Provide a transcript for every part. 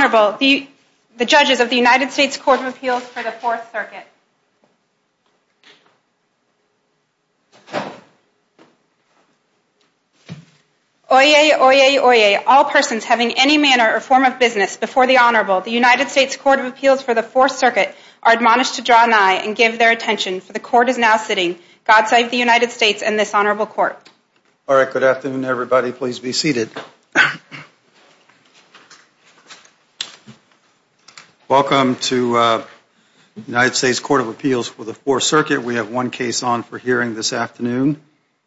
Oyez, Oyez, Oyez, all persons having any manner or form of business before the Honorable, the United States Court of Appeals for the Fourth Circuit are admonished to draw nigh and give their attention. So the Court is now sitting. God save the United States and this Honorable Court. All right. Good afternoon, everybody. Please be seated. Welcome to the United States Court of Appeals for the Fourth Circuit. We have one case on for hearing this afternoon,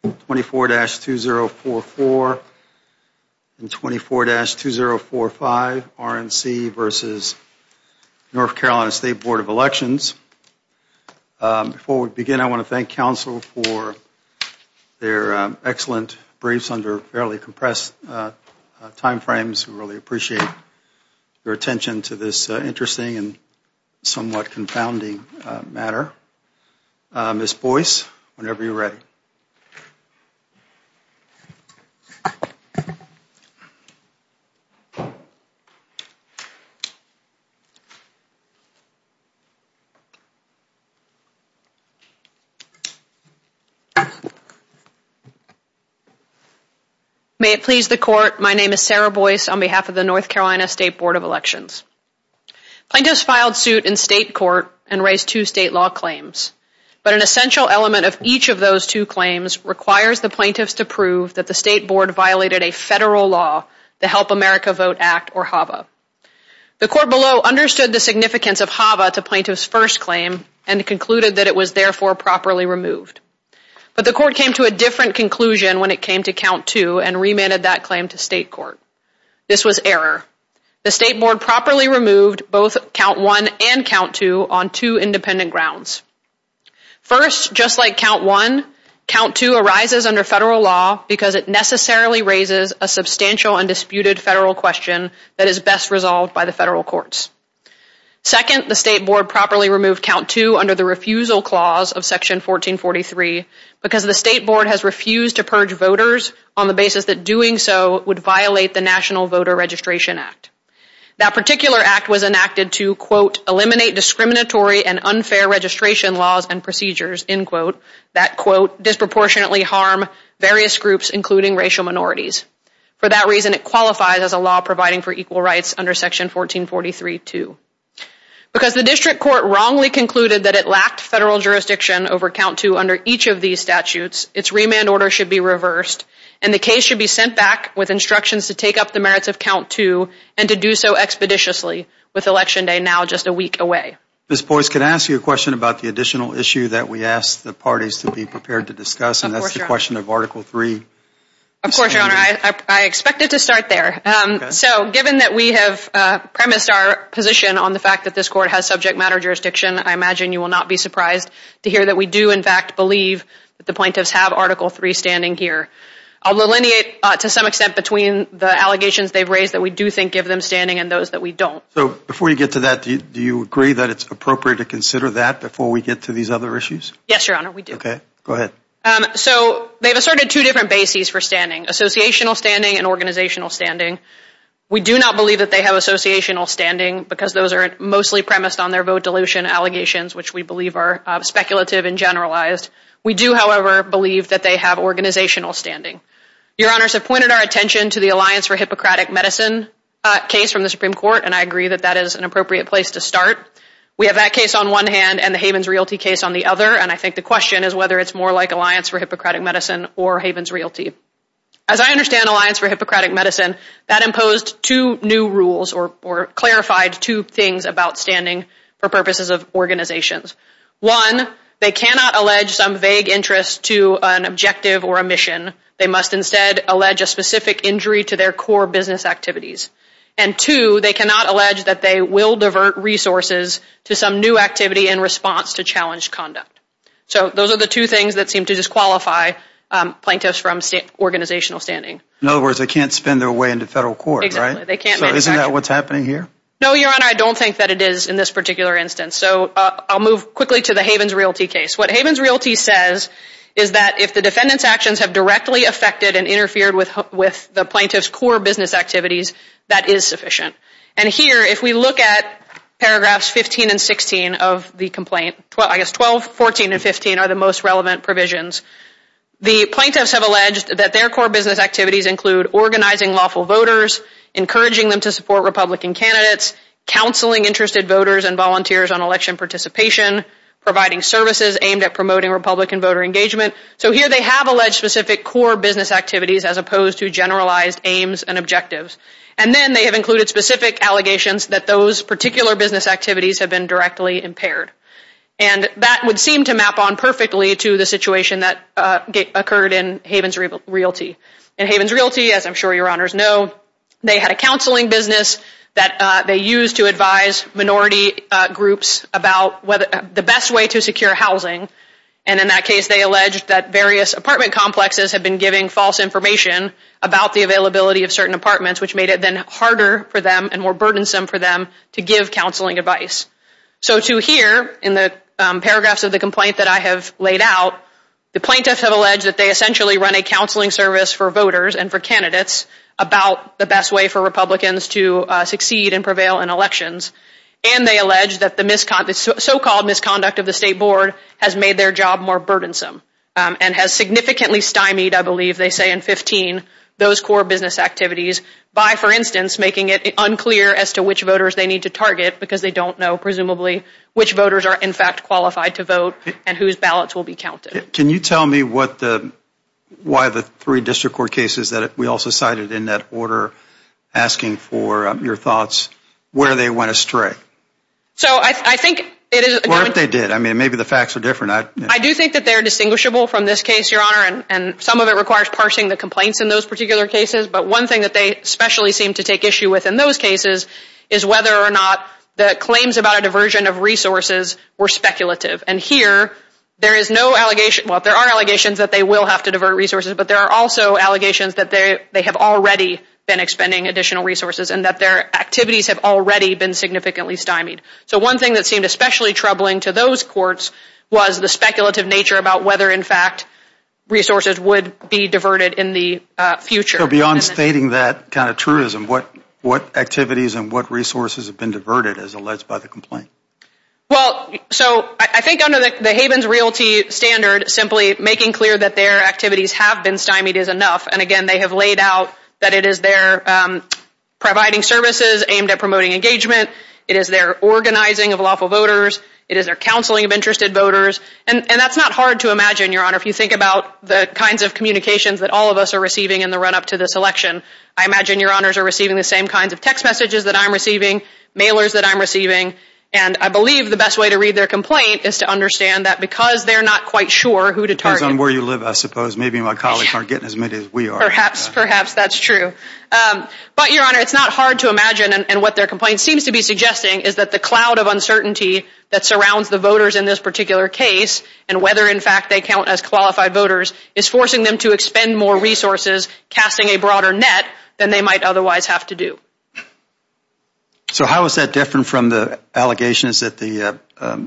24-2044 and 24-2045, RNC v. North Carolina State Board of Elections. Before we begin, I want to thank counsel for their excellent briefs under fairly compressed time frames. We really appreciate your attention to this interesting and somewhat confounding matter. Ms. Boyce, whenever you're ready, you may begin. May it please the Court, my name is Sarah Boyce on behalf of the North Carolina State Board of Elections. I just filed suit in state court and raised two state law claims. But an essential element of each of those two claims requires the plaintiffs to prove that the state board violated a federal law, the Help America Vote Act or HAVA. The court below understood the significance of HAVA to plaintiff's first claim and concluded that it was therefore properly removed. But the court came to a different conclusion when it came to count two and remanded that claim to state court. This was error. The state board properly removed both count one and count two on two independent grounds. First, just like count one, count two arises under federal law because it necessarily raises a substantial and disputed federal question that is best resolved by the federal courts. Second, the state board properly removed count two under the refusal clause of section 1443 because the state board has refused to purge voters on the basis that doing so would violate the National Voter Registration Act. That particular act was enacted to, quote, eliminate discriminatory and unfair registration laws and procedures, end quote, that, quote, disproportionately harm various groups including racial minorities. For that reason, it qualifies as a law providing for equal rights under section 1443-2. Because the district court wrongly concluded that it lacked federal jurisdiction over count two under each of these statutes, its remand order should be reversed and the case should be sent back with instructions to take up the merits of count two and to do so expeditiously with election day now just a week away. Ms. Boyce, can I ask you a question about the additional issue that we asked the parties to be prepared to discuss? And that's the question of article three. Of course, your honor. I expected to start there. So given that we have premised our position on the fact that this court has subject matter jurisdiction, I imagine you will not be surprised to hear that we do, in fact, believe that the plaintiffs have article three standing here. I'll delineate to some extent between the allegations they've raised that we do think give them standing and those that we don't. So before you get to that, do you agree that it's appropriate to consider that before we get to these other issues? Yes, your honor, we do. Okay. Go ahead. So they've asserted two different bases for standing, associational standing and organizational standing. We do not believe that they have associational standing because those are mostly premised on their vote dilution allegations, which we believe are speculative and generalized. We do, however, believe that they have organizational standing. Your honors have pointed our attention to the Alliance for Hippocratic Medicine case from the Supreme Court, and I agree that that is an appropriate place to start. We have that case on one hand and the Havens Realty case on the other, and I think the question is whether it's more like Alliance for Hippocratic Medicine or Havens Realty. As I understand Alliance for Hippocratic Medicine, that imposed two new rules or clarified two things about standing for purposes of organizations. One, they cannot allege some vague interest to an objective or a mission. They must instead allege a specific injury to their core business activities. And two, they cannot allege that they will divert resources to some new activity in response to challenged conduct. So those are the two things that seem to disqualify plaintiffs from organizational standing. In other words, they can't spend their way into federal court, right? They can't. So isn't that what's happening here? No, Your Honor, I don't think that it is in this particular instance. So I'll move quickly to the Havens Realty case. What Havens Realty says is that if the defendant's actions have directly affected and interfered with the plaintiff's core business activities, that is sufficient. And here, if we look at paragraphs 15 and 16 of the complaint, I guess 12, 14, and 15 are the most relevant provisions, the plaintiffs have alleged that their core business activities include organizing lawful voters, encouraging them to support Republican candidates, counseling interested voters and volunteers on election participation, providing services aimed at promoting Republican voter engagement. So here they have alleged specific core business activities as opposed to generalized aims and objectives. And then they have included specific allegations that those particular business activities have been directly impaired. And that would seem to map on perfectly to the situation that occurred in Havens Realty. In Havens Realty, as I'm sure Your Honors know, they had a counseling business that they used to advise minority groups about the best way to secure housing. And in that case, they alleged that various apartment complexes had been giving false information about the availability of certain apartments, which made it then harder for them and more burdensome for them to give counseling advice. So to here, in the paragraphs of the complaint that I have laid out, the plaintiffs have alleged that they essentially run a counseling service for voters and for candidates about the best way for Republicans to succeed and prevail in elections. And they allege that the so-called misconduct of the state board has made their job more burdensome and has significantly stymied, I believe they say in 15, those core business activities by, for instance, making it unclear as to which voters they need to target because they don't know presumably which voters are in fact qualified to vote and whose ballots will be counted. Can you tell me what the, why the three district court cases that we also cited in that order asking for your thoughts, where they went astray? So I think it is... Or if they did. I mean, maybe the facts are different. I do think that they're distinguishable from this case, Your Honor, and some of it requires parsing the complaints in those particular cases. But one thing that they especially seem to take issue with in those cases is whether or not the claims about a diversion of resources were speculative. And here, there is no allegation, well, there are allegations that they will have to divert resources, but there are also allegations that they have already been expending additional resources and that their activities have already been significantly stymied. So one thing that seemed especially troubling to those courts was the speculative nature about whether in fact resources would be diverted in the future. So beyond stating that kind of truism, what activities and what resources have been diverted as alleged by the complaint? Well, so I think under the Havens Realty standard, simply making clear that their activities have been stymied is enough. And again, they have laid out that it is their providing services aimed at promoting engagement, it is their organizing of lawful voters, it is their counseling of interested voters. And that's not hard to imagine, Your Honor, if you think about the kinds of communications that all of us are receiving in the run-up to this election. I imagine Your Honors are receiving the same kinds of text messages that I'm receiving, mailers that I'm receiving. And I believe the best way to read their complaint is to understand that because they're not quite sure who to target. Depending on where you live, I suppose, maybe my colleagues aren't getting as many as we are. Perhaps, perhaps, that's true. But, Your Honor, it's not hard to imagine, and what their complaint seems to be suggesting is that the cloud of uncertainty that surrounds the voters in this particular case, and whether in fact they count as qualified voters, is forcing them to expend more resources, casting a broader net, than they might otherwise have to do. So how is that different from the allegations that the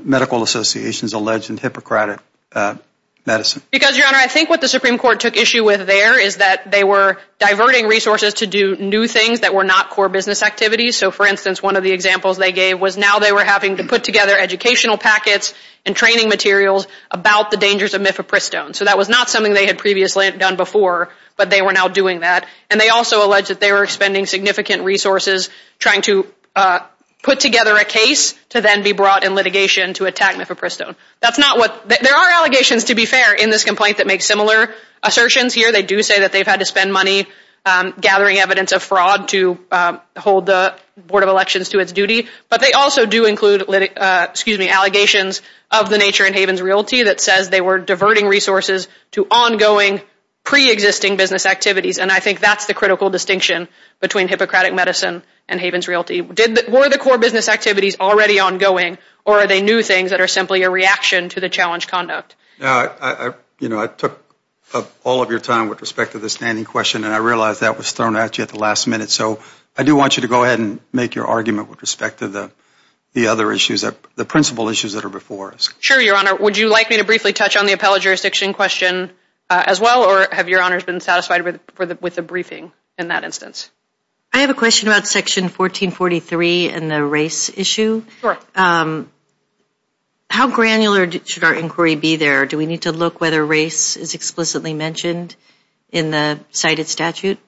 medical associations alleged in Hippocratic Madison? Because, Your Honor, I think what the Supreme Court took issue with there is that they were diverting resources to do new things that were not core business activities. So, for instance, one of the examples they gave was now they were having to put together educational packets and training materials about the dangers of Mifepristone. So that was not something they had previously done before, but they were now doing that. And they also alleged that they were expending significant resources trying to put together a case to then be brought in litigation to attack Mifepristone. That's not what, there are allegations, to be fair, in this complaint that make similar assertions here. They do say that they've had to spend money gathering evidence of fraud to hold the Board of Elections to its duty, but they also do include, excuse me, allegations of the nature in Havens Realty that says they were diverting resources to ongoing, pre-existing business activities. And I think that's the critical distinction between Hippocratic Madison and Havens Realty. Were the core business activities already ongoing, or are they new things that are simply a reaction to the challenge conduct? Now, you know, I took up all of your time with respect to the standing question, and I realize that was thrown at you at the last minute. So I do want you to go ahead and make your argument with respect to the other issues, the principal issues that are before us. Sure, Your Honor. Would you like me to briefly touch on the appellate jurisdiction question as well, or have Your Honors been satisfied with the briefing in that instance? I have a question about Section 1443 and the race issue. How granular should our inquiry be there? Do we need to look whether race is explicitly mentioned in the cited statute?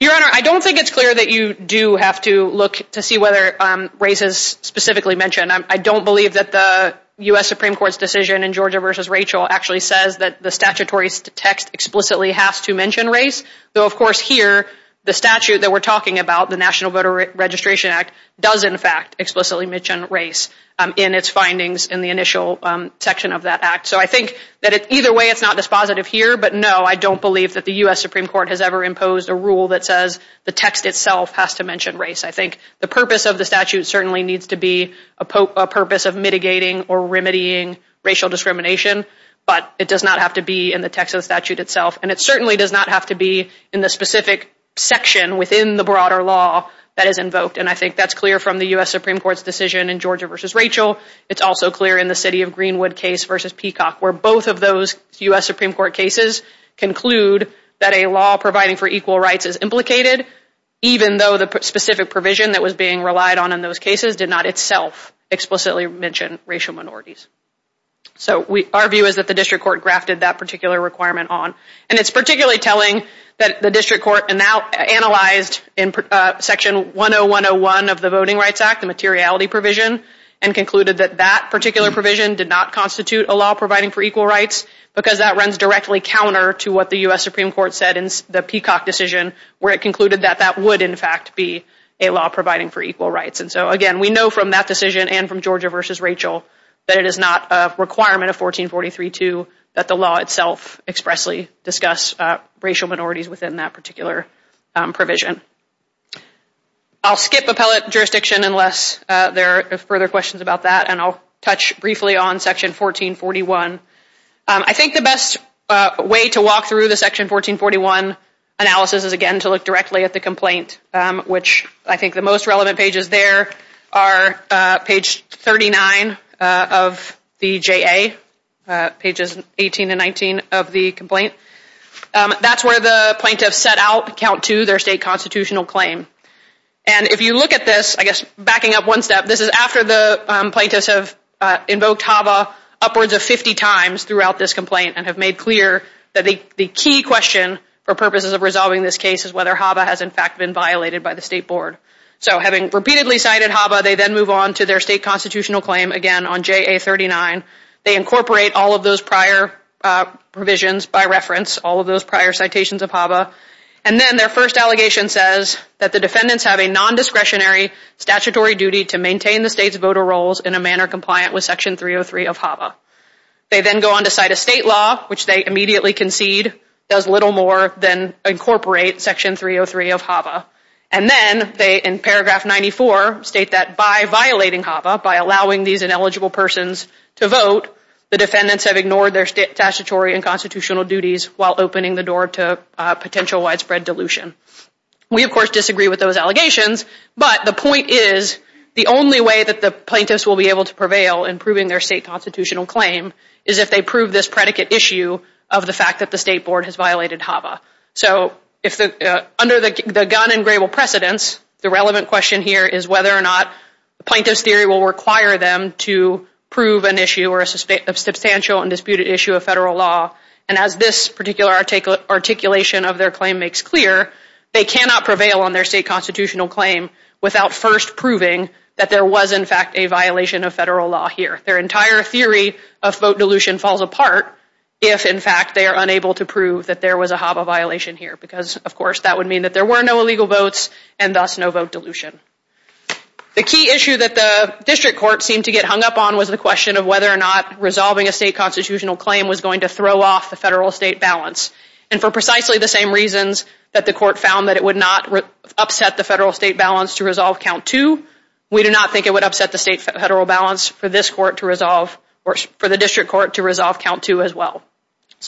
Your Honor, I don't think it's clear that you do have to look to see whether race is specifically mentioned. I don't believe that the U.S. Supreme Court's decision in Georgia v. Rachel actually says that the statutory text explicitly has to mention race, though of course here, the statute that we're talking about, the National Voter Registration Act, does in fact explicitly mention race in its findings in the initial section of that act. So I think that either way it's not dispositive here, but no, I don't believe that the U.S. Supreme Court has ever imposed a rule that says the text itself has to mention race. I think the purpose of the statute certainly needs to be a purpose of mitigating or remedying racial discrimination, but it does not have to be in the text of the statute itself, and it certainly does not have to be in the specific section within the broader law that is invoked, and I think that's clear from the U.S. Supreme Court's decision in Georgia v. Rachel. It's also clear in the City of Greenwood case v. Peacock, where both of those U.S. Supreme Court cases conclude that a law providing for equal rights is implicated, even though the specific provision that was being relied on in those cases did not itself explicitly mention racial minorities. So our view is that the district court grafted that particular requirement on, and it's particularly telling that the district court now analyzed in Section 10101 of the Voting Rights Act, the materiality provision, and concluded that that particular provision did not constitute a law providing for equal rights, because that runs directly counter to what the U.S. Supreme Court found to be a law providing for equal rights. And so, again, we know from that decision and from Georgia v. Rachel that it is not a requirement of 1443-2 that the law itself expressly discuss racial minorities within that particular provision. I'll skip appellate jurisdiction unless there are further questions about that, and I'll touch briefly on Section 1441. I think the best way to walk through the Section 1441 analysis is, again, to look directly at the complaint, which I think the most relevant pages there are page 39 of the JA, pages 18 and 19 of the complaint. That's where the plaintiffs set out Count 2, their state constitutional claim. And if you look at this, I guess backing up one step, this is after the plaintiffs have invoked HAVA upwards of 50 times throughout this complaint and have made clear that the key question for purposes of resolving this case is whether HAVA has in fact been violated by the state board. So, having repeatedly cited HAVA, they then move on to their state constitutional claim again on JA 39. They incorporate all of those prior provisions by reference, all of those prior citations of HAVA. And then their first allegation says that the defendants have a nondiscretionary statutory duty to maintain the state's voter rolls in a manner compliant with Section 303 of HAVA. They then go on to cite a state law, which they immediately concede does little more than incorporate Section 303 of HAVA. And then they, in paragraph 94, state that by violating HAVA, by allowing these ineligible persons to vote, the defendants have ignored their statutory and constitutional duties while opening the door to potential widespread dilution. We of course disagree with those allegations, but the point is the only way that the plaintiffs will be able to prevail in proving their state constitutional claim is if they prove this predicate issue of the fact that the state board has violated HAVA. So, under the gun and gravel precedence, the relevant question here is whether or not plaintiff's theory will require them to prove an issue or a substantial and disputed issue of federal law. And as this particular articulation of their claim makes clear, they cannot prevail on their state constitutional claim without first proving that there was in fact a violation of federal law here. Their entire theory of vote dilution falls apart if in fact they are unable to prove that there was a HAVA violation here, because of course that would mean that there were no illegal votes and thus no vote dilution. The key issue that the district court seemed to get hung up on was the question of whether or not resolving a state constitutional claim was going to throw off the federal-state balance. And for precisely the same reasons that the court found that it would not upset the federal-state balance to resolve count two, we do not think it would upset the state-federal balance for this court to resolve or for the district court to resolve count two as well.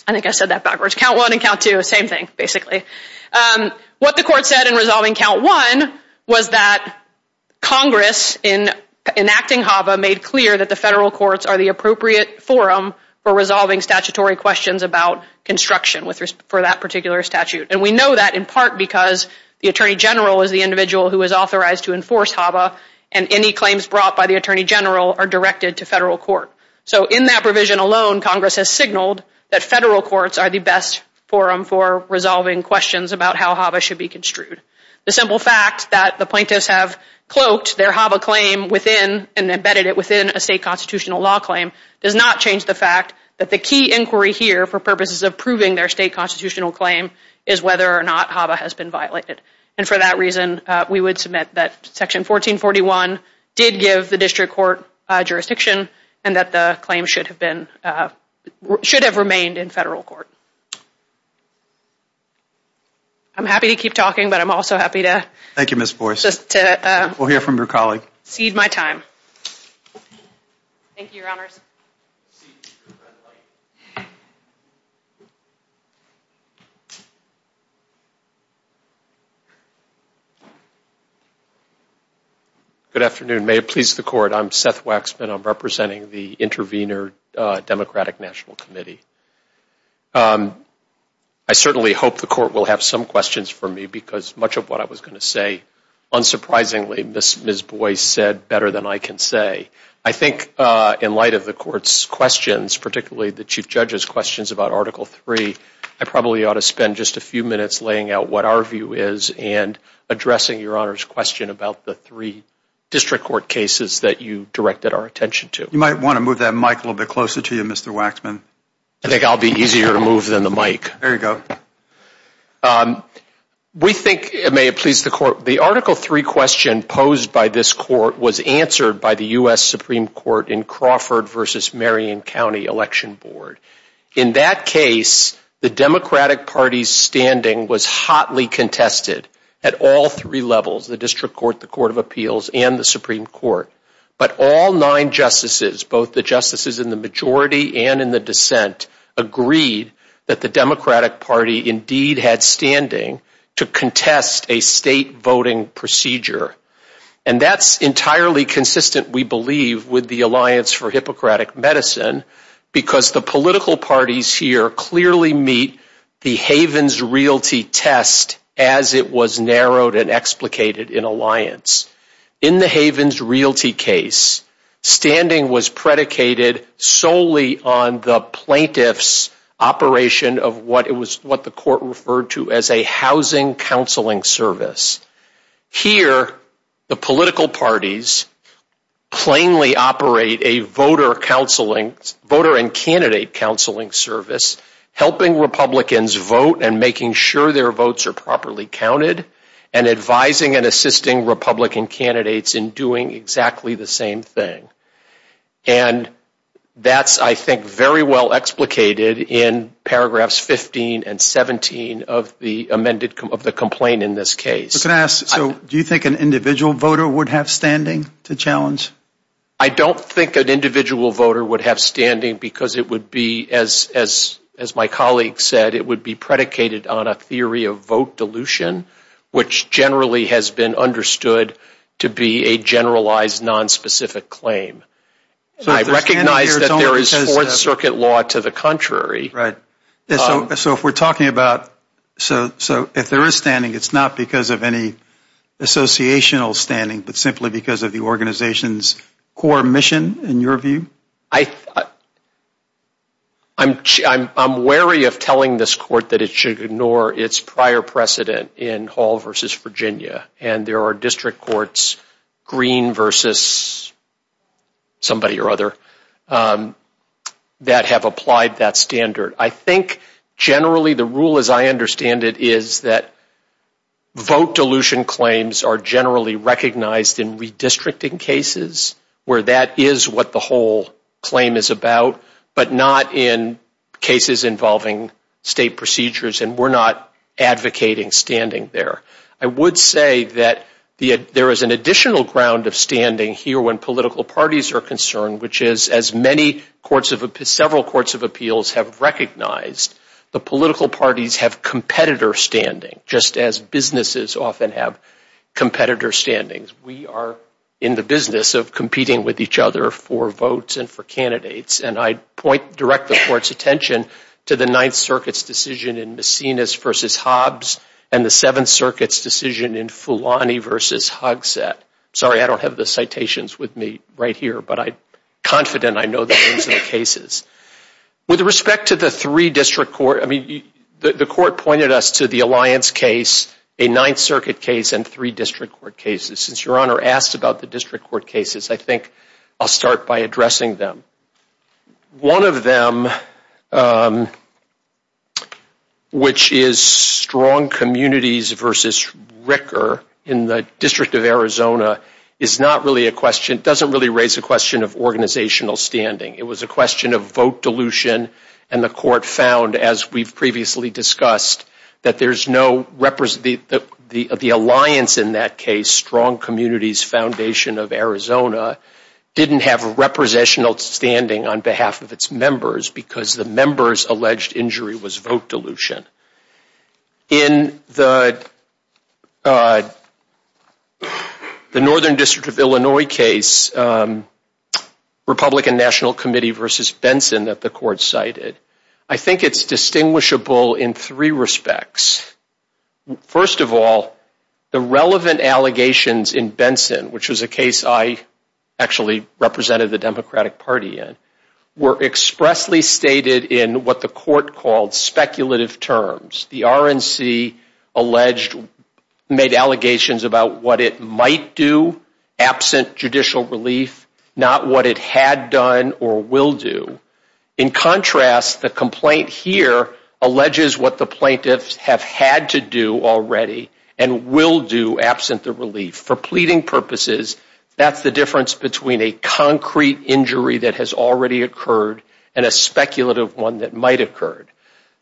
I think I said that backwards. Count one and count two, same thing, basically. What the court said in resolving count one was that Congress, in enacting HAVA, made clear that the federal courts are the appropriate forum for resolving statutory questions about construction for that particular statute. And we know that in part because the Attorney General is the individual who is authorized to enforce HAVA and any claims brought by the Attorney General are directed to federal court. So in that provision alone, Congress has signaled that federal courts are the best forum for resolving questions about how HAVA should be construed. The simple fact that the plaintiffs have cloaked their HAVA claim within and embedded it within a state constitutional law claim does not change the fact that the key inquiry here for purposes of proving their state constitutional claim is whether or not HAVA has been violated. And for that reason, we would submit that Section 1441 did give the district court jurisdiction and that the claim should have been, should have remained in federal court. I'm happy to keep talking, but I'm also happy to... Thank you, Ms. Boies. ...just to... We'll hear from your colleague. ...cede my time. Thank you, Your Honors. Good afternoon. May it please the court, I'm Seth Waxman. I'm representing the Intervenor Democratic National Committee. I certainly hope the court will have some questions for me because much of what I was going to say, unsurprisingly, Ms. Boies said better than I can say. I think in light of the court's questions, particularly the Chief Judge's questions about Article III, I probably ought to spend just a few minutes laying out what our view is and addressing Your Honor's question about the three district court cases that you directed our attention to. You might want to move that mic a little bit closer to you, Mr. Waxman. I think I'll be easier to move than the mic. There you go. We think, may it please the court, the Article III question posed by this court was answered by the U.S. Supreme Court in Crawford v. Marion County Election Board. In that case, the Democratic Party's standing was hotly contested at all three levels, the District Court, the Court of Appeals, and the Supreme Court. But all nine justices, both the justices in the majority and in the dissent, agreed that the Democratic Party indeed had standing to contest a state voting procedure. And that's entirely consistent, we believe, with the Alliance for Hippocratic Medicine because the political parties here clearly meet the Havens Realty test as it was narrowed and explicated in Alliance. In the Havens Realty case, standing was predicated solely on the plaintiff's operation of what the court referred to as a housing counseling service. Here, the political parties plainly operate a voter and candidate counseling service, helping Republicans vote and making sure their votes are properly counted, and advising and assisting Republican candidates in doing exactly the same thing. And that's, I think, very well explicated in paragraphs 15 and 17 of the complaint in this case. So can I ask, do you think an individual voter would have standing to challenge? I don't think an individual voter would have standing because it would be, as my colleague said, it would be predicated on a theory of vote dilution, which generally has been understood to be a generalized, nonspecific claim. I recognize that there is Fourth Circuit law to the contrary. So if we're talking about, so if there is standing, it's not because of any associational standing, but simply because of the organization's core mission, in your view? I'm wary of telling this court that it should ignore its prior precedent in Hall versus Virginia, and there are district courts, Green versus somebody or other, that have applied that standard. I think, generally, the rule as I understand it is that vote dilution claims are generally recognized in redistricting cases, where that is what the whole claim is about, but not in cases involving state procedures, and we're not advocating standing there. I would say that there is an additional ground of standing here when political parties are standing, which is, as several courts of appeals have recognized, the political parties have competitor standing, just as businesses often have competitor standings. We are in the business of competing with each other for votes and for candidates, and I direct the court's attention to the Ninth Circuit's decision in Macinis versus Hobbs, and the Seventh Circuit's decision in Fulani versus Hogsett. Sorry, I don't have the citations with me right here, but I'm confident I know the names of the cases. With respect to the three district courts, I mean, the court pointed us to the Alliance case, a Ninth Circuit case, and three district court cases. Since Your Honor asked about the district court cases, I think I'll start by addressing them. One of them, which is Strong Communities versus Ricker in the District of Arizona, is not really a question, doesn't really raise a question of organizational standing. It was a question of vote dilution, and the court found, as we've previously discussed, that there's no, the Alliance in that case, Strong Communities Foundation of Arizona, didn't have a representational standing on behalf of its members because the members' alleged injury was vote dilution. In the Northern District of Illinois case, Republican National Committee versus Benson that the court cited, I think it's distinguishable in three respects. First of all, the relevant allegations in Benson, which was a case I actually represented the Democratic Party in, were expressly stated in what the court called speculative terms. The RNC alleged, made allegations about what it might do absent judicial relief, not what it had done or will do. In contrast, the complaint here alleges what the plaintiffs have had to do already and will do absent the relief. For pleading purposes, that's the difference between a concrete injury that has already occurred and a speculative one that might have occurred.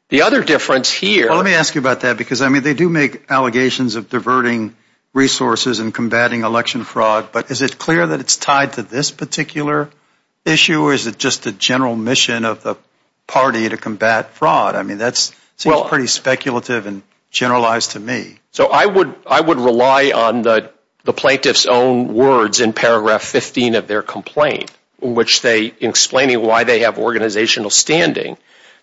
The other difference here- Let me ask you about that because they do make allegations of diverting resources and combating election fraud, but is it clear that it's tied to this particular issue or is it just the general mission of the party to combat fraud? That seems pretty speculative and generalized to me. I would rely on the plaintiffs' own words in paragraph 15 of their complaint, in which they explain why they have organizational standing.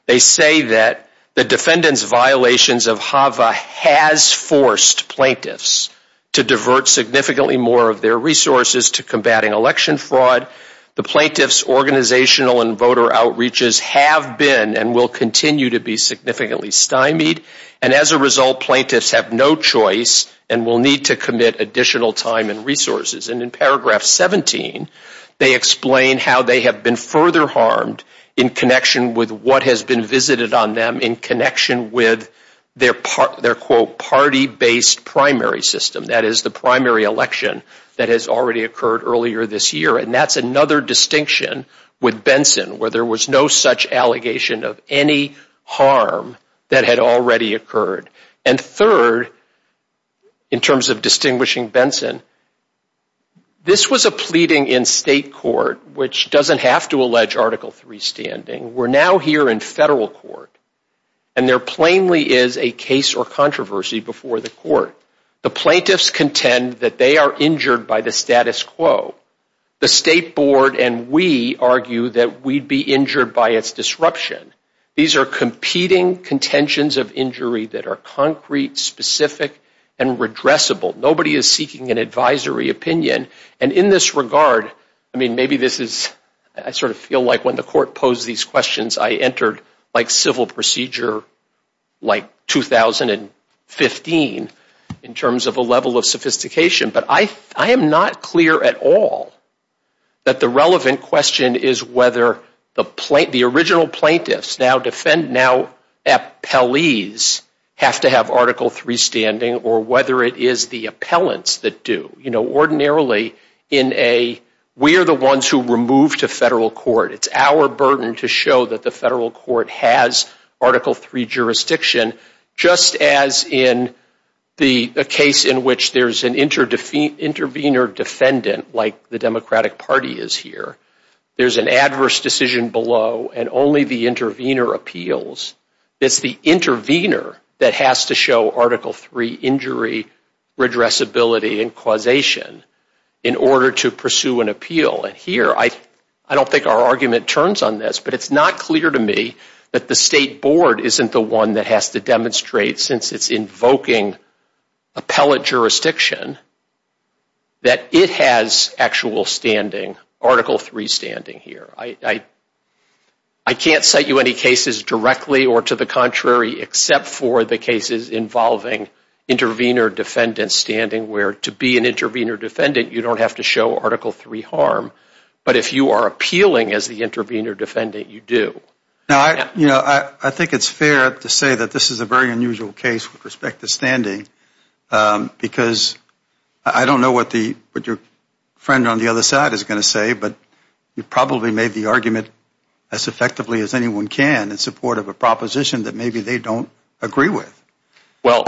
They say that the defendant's violations of HAVA has forced plaintiffs to divert significantly more of their resources to combating election fraud. The plaintiffs' organizational and voter outreaches have been and will continue to be significantly stymied. As a result, plaintiffs have no choice and will need to commit additional time and resources. In paragraph 17, they explain how they have been further harmed in connection with what has been visited on them in connection with their, quote, party-based primary system. That is the primary election that has already occurred earlier this year. And that's another distinction with Benson, where there was no such allegation of any harm that had already occurred. And third, in terms of distinguishing Benson, this was a pleading in state court, which doesn't have to allege Article III standing. We're now here in federal court. And there plainly is a case or controversy before the court. The plaintiffs contend that they are injured by the status quo. The state board and we argue that we'd be injured by its disruption. These are competing contentions of injury that are concrete, specific, and redressable. Nobody is seeking an advisory opinion. And in this regard, I mean, maybe this is, I sort of feel like when the court posed these questions, I entered like civil procedure like 2015 in terms of a level of sophistication. But I am not clear at all that the relevant question is whether the original plaintiffs now defend now appellees have to have Article III standing or whether it is the appellants that do. You know, ordinarily, we are the ones who were moved to federal court. It's our burden to show that the federal court has Article III jurisdiction, just as in the case in which there's an intervener defendant like the Democratic Party is here. There's an adverse decision below and only the intervener appeals. It's the intervener that has to show Article III injury, redressability, and causation in order to pursue an appeal. And here, I don't think our argument turns on this, but it's not clear to me that the appellate jurisdiction, that it has actual standing, Article III standing here. I can't cite you any cases directly or to the contrary except for the cases involving intervener defendant standing where to be an intervener defendant, you don't have to show Article III harm. But if you are appealing as the intervener defendant, you do. Now, you know, I think it's fair to say that this is a very unusual case with respect to standing because I don't know what your friend on the other side is going to say, but you probably made the argument as effectively as anyone can in support of a proposition that maybe they don't agree with. Well,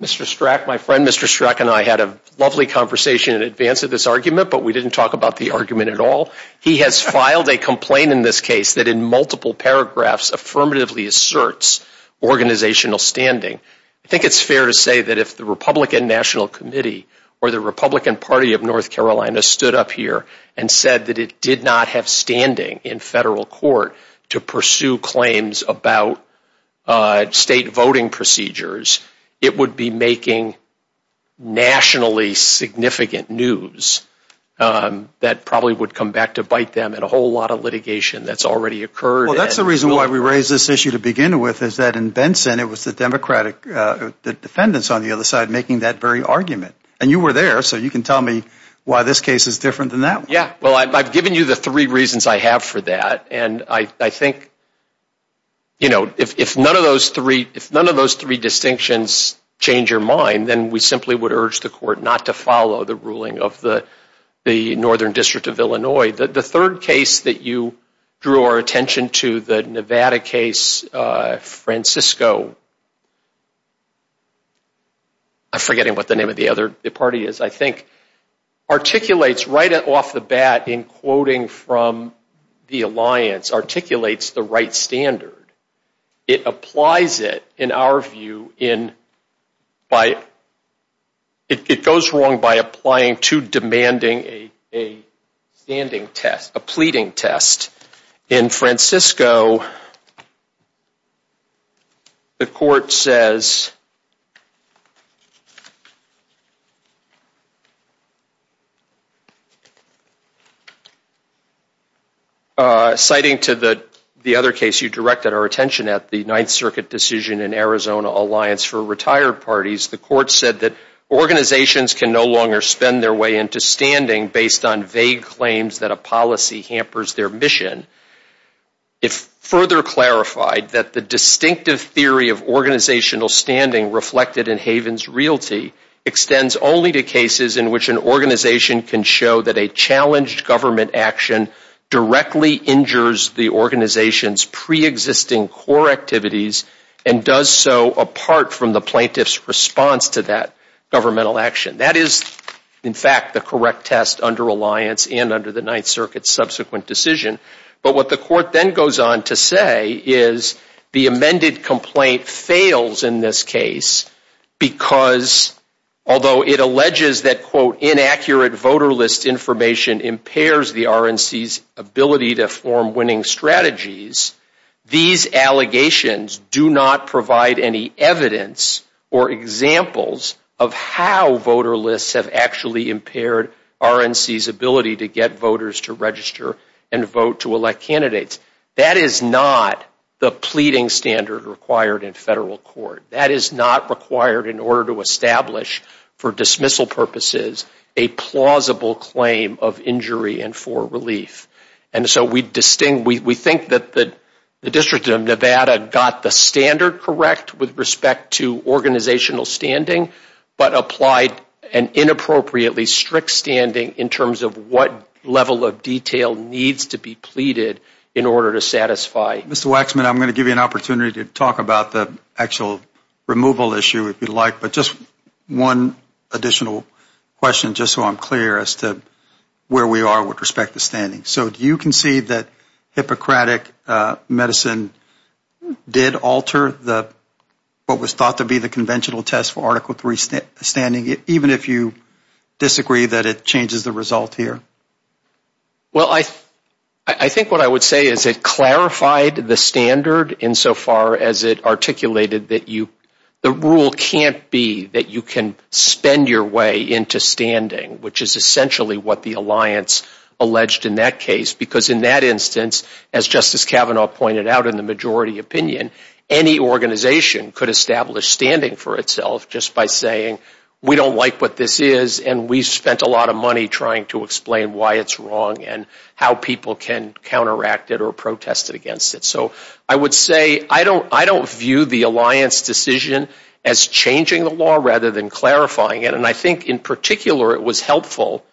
Mr. Strzok, my friend Mr. Strzok and I had a lovely conversation in advance of this argument, but we didn't talk about the argument at all. He has filed a complaint in this case that in multiple paragraphs affirmatively asserts organizational standing. I think it's fair to say that if the Republican National Committee or the Republican Party of North Carolina stood up here and said that it did not have standing in federal court to pursue claims about state voting procedures, it would be making nationally significant news that probably would come back to bite them and a whole lot of litigation that's already occurred. Well, that's the reason why we raised this issue to begin with is that in Benson, it was the Democratic defendants on the other side making that very argument. And you were there, so you can tell me why this case is different than that one. Yeah, well, I've given you the three reasons I have for that, and I think, you know, if none of those three distinctions change your mind, then we simply would urge the court not to follow the ruling of the Northern District of Illinois. The third case that you drew our attention to, the Nevada case, Francisco, I'm forgetting what the name of the other party is, I think, articulates right off the bat in quoting from the alliance, articulates the right standard. It applies it, in our view, it goes wrong by applying to demanding a standing test, a pleading test. In Francisco, the court says, citing to the other case you directed our attention at, the Ninth Circuit decision in Arizona Alliance for Retired Parties, the court said that organizations can no longer spend their way into standing based on vague claims that a government action hampers their mission. If further clarified, that the distinctive theory of organizational standing reflected in Haven's realty extends only to cases in which an organization can show that a challenged government action directly injures the organization's preexisting core activities and does so apart from the plaintiff's response to that governmental action. That is, in fact, the correct test under alliance and under the Ninth Circuit's subsequent decision, but what the court then goes on to say is, the amended complaint fails in this case because, although it alleges that, quote, inaccurate voter list information impairs the RNC's ability to form winning strategies, these allegations do not provide any evidence or examples of how voter lists have actually impaired RNC's ability to get voters to register and vote to elect candidates. That is not the pleading standard required in federal court. That is not required in order to establish, for dismissal purposes, a plausible claim of injury and for relief. We think that the District of Nevada got the standard correct with respect to organizational standing, but applied an inappropriately strict standing in terms of what level of detail needs to be pleaded in order to satisfy. Mr. Waxman, I'm going to give you an opportunity to talk about the actual removal issue if you'd like, but just one additional question just so I'm clear as to where we are with respect to standing. Do you concede that Hippocratic Medicine did alter what was thought to be the conventional test for Article III standing, even if you disagree that it changes the result here? Well, I think what I would say is it clarified the standard insofar as it articulated that the rule can't be that you can spend your way into standing, which is essentially what the Alliance alleged in that case, because in that instance, as Justice Kavanaugh pointed out in the majority opinion, any organization could establish standing for itself just by saying, we don't like what this is and we spent a lot of money trying to explain why it's wrong and how people can counteract it or protest against it. So I would say I don't view the Alliance decision as changing the law rather than clarifying it, and I think in particular it was helpful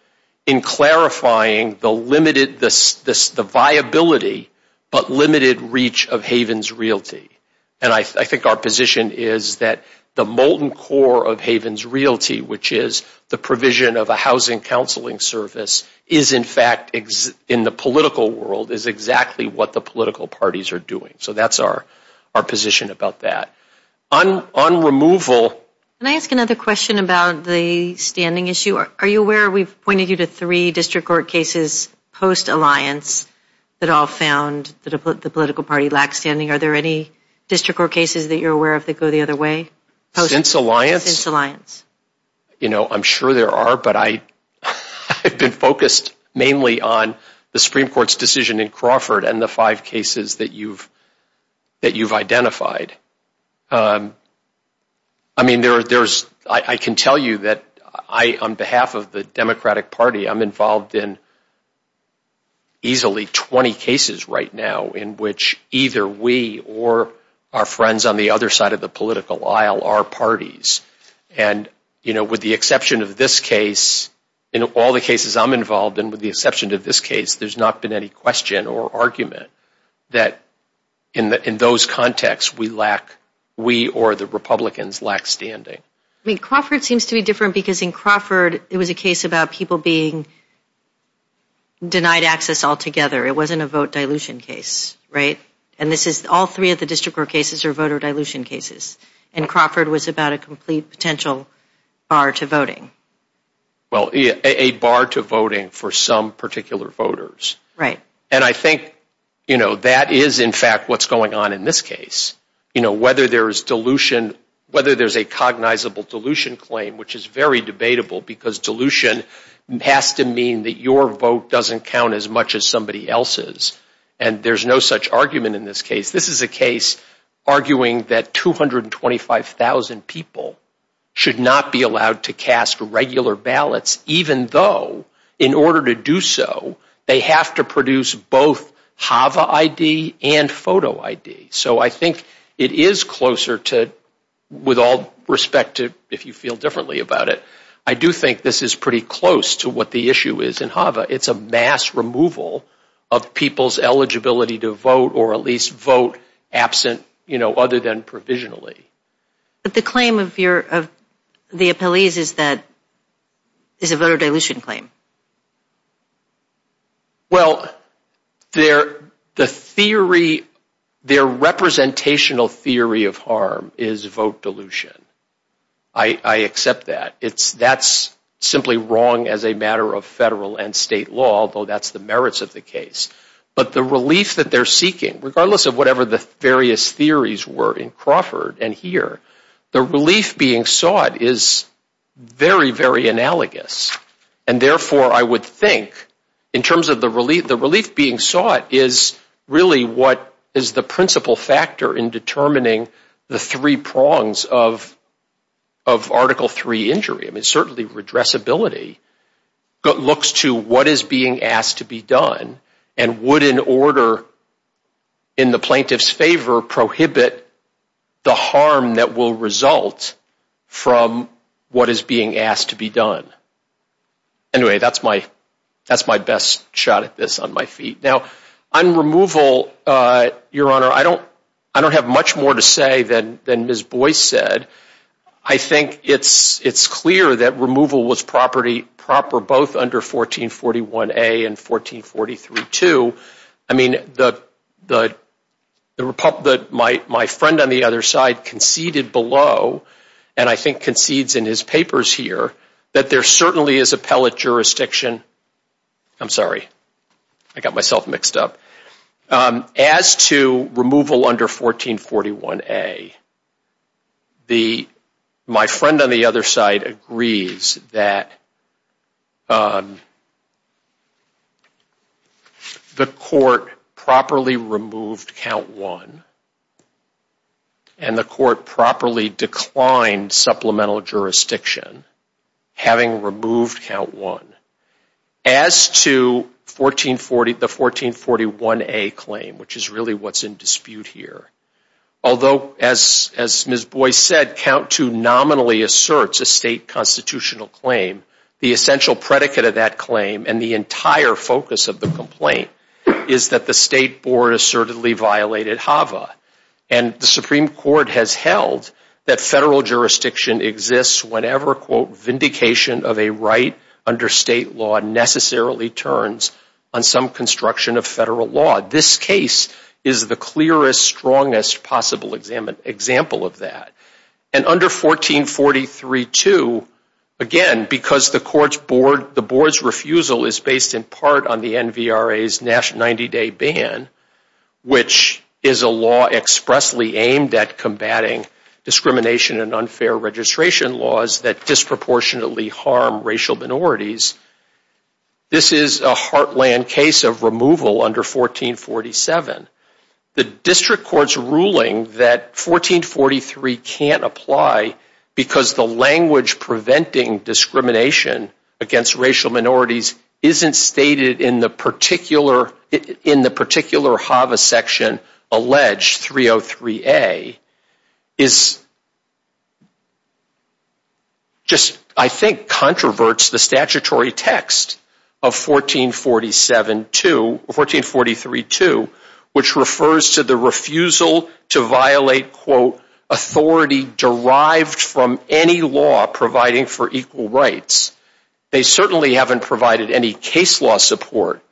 in clarifying the limited, the viability, but limited reach of Haven's Realty. And I think our position is that the molten core of Haven's Realty, which is the provision of a housing counseling service, is in fact in the political world is exactly what the political parties are doing. So that's our position about that. On removal... Can I ask another question about the standing issue? Are you aware we've pointed you to three district court cases post-Alliance that all found that the political party lacks standing? Are there any district court cases that you're aware of that go the other way? Since Alliance? Since Alliance. You know, I'm sure there are, but I've been focused mainly on the Supreme Court's decision in Crawford and the five cases that you've identified. I mean, there's... I can tell you that I, on behalf of the Democratic Party, I'm involved in easily 20 cases right now in which either we or our friends on the other side of the political aisle are parties. And with the exception of this case, in all the cases I'm involved in with the exception of this case, there's not been any question or argument that in those contexts we lack... We or the Republicans lack standing. I mean, Crawford seems to be different because in Crawford it was a case about people being denied access altogether. It wasn't a vote dilution case, right? And this is... All three of the district court cases are voter dilution cases. And Crawford was about a complete potential bar to voting. Well, a bar to voting for some particular voters. And I think, you know, that is in fact what's going on in this case. You know, whether there is dilution, whether there's a cognizable dilution claim, which is very debatable because dilution has to mean that your vote doesn't count as much as somebody else's. And there's no such argument in this case. If this is a case arguing that 225,000 people should not be allowed to cast regular ballots even though in order to do so, they have to produce both HAVA ID and photo ID. So, I think it is closer to, with all respect to if you feel differently about it, I do think this is pretty close to what the issue is in HAVA. It's a mass removal of people's eligibility to vote or at least vote absent, you know, other than provisionally. But the claim of the appellees is that it's a voter dilution claim. Well, the theory, their representational theory of harm is vote dilution. I accept that. That's simply wrong as a matter of federal and state law, although that's the merits of the case. But the relief that they're seeking, regardless of whatever the various theories were in Crawford and here, the relief being sought is very, very analogous. And therefore, I would think, in terms of the relief being sought is really what is the principal factor in determining the three prongs of Article III injury. I mean, certainly redressability looks to what is being asked to be done and would in order, in the plaintiff's favor, prohibit the harm that will result from what is being asked to be done. Anyway, that's my best shot at this on my feet. Now, on removal, Your Honor, I don't have much more to say than Ms. Boyce said. I think it's clear that removal was proper both under 1441A and 1443-2. I mean, my friend on the other side conceded below, and I think concedes in his papers here, that there certainly is appellate jurisdiction. I'm sorry. I got myself mixed up. As to removal under 1441A, my friend on the other side agrees that the court properly removed Count I, and the court properly declined supplemental jurisdiction, having removed Count I. As to the 1441A claim, which is really what's in dispute here, although, as Ms. Boyce said, Count II nominally asserts a state constitutional claim, the essential predicate of that claim and the entire focus of the complaint is that the state board assertedly violated HAVA, and the Supreme Court has held that federal jurisdiction exists whenever, quote, vindication of a right under state law necessarily turns on some construction of federal law. This case is the clearest, strongest possible example of that. And under 1443-2, again, because the board's refusal is based in part on the NVRA's 90-day ban, which is a law expressly aimed at combating discrimination and unfair registration laws that disproportionately harm racial minorities, this is a heartland case of removal under 1447. The district court's ruling that 1443 can't apply because the language preventing discrimination against racial minorities isn't stated in the particular HAVA section alleged, 303A, is just, I think, controverts the statutory text of 1447-2, 1443-2, which refers to the refusal to violate, quote, authority derived from any law providing for equal rights. They certainly haven't provided any case law support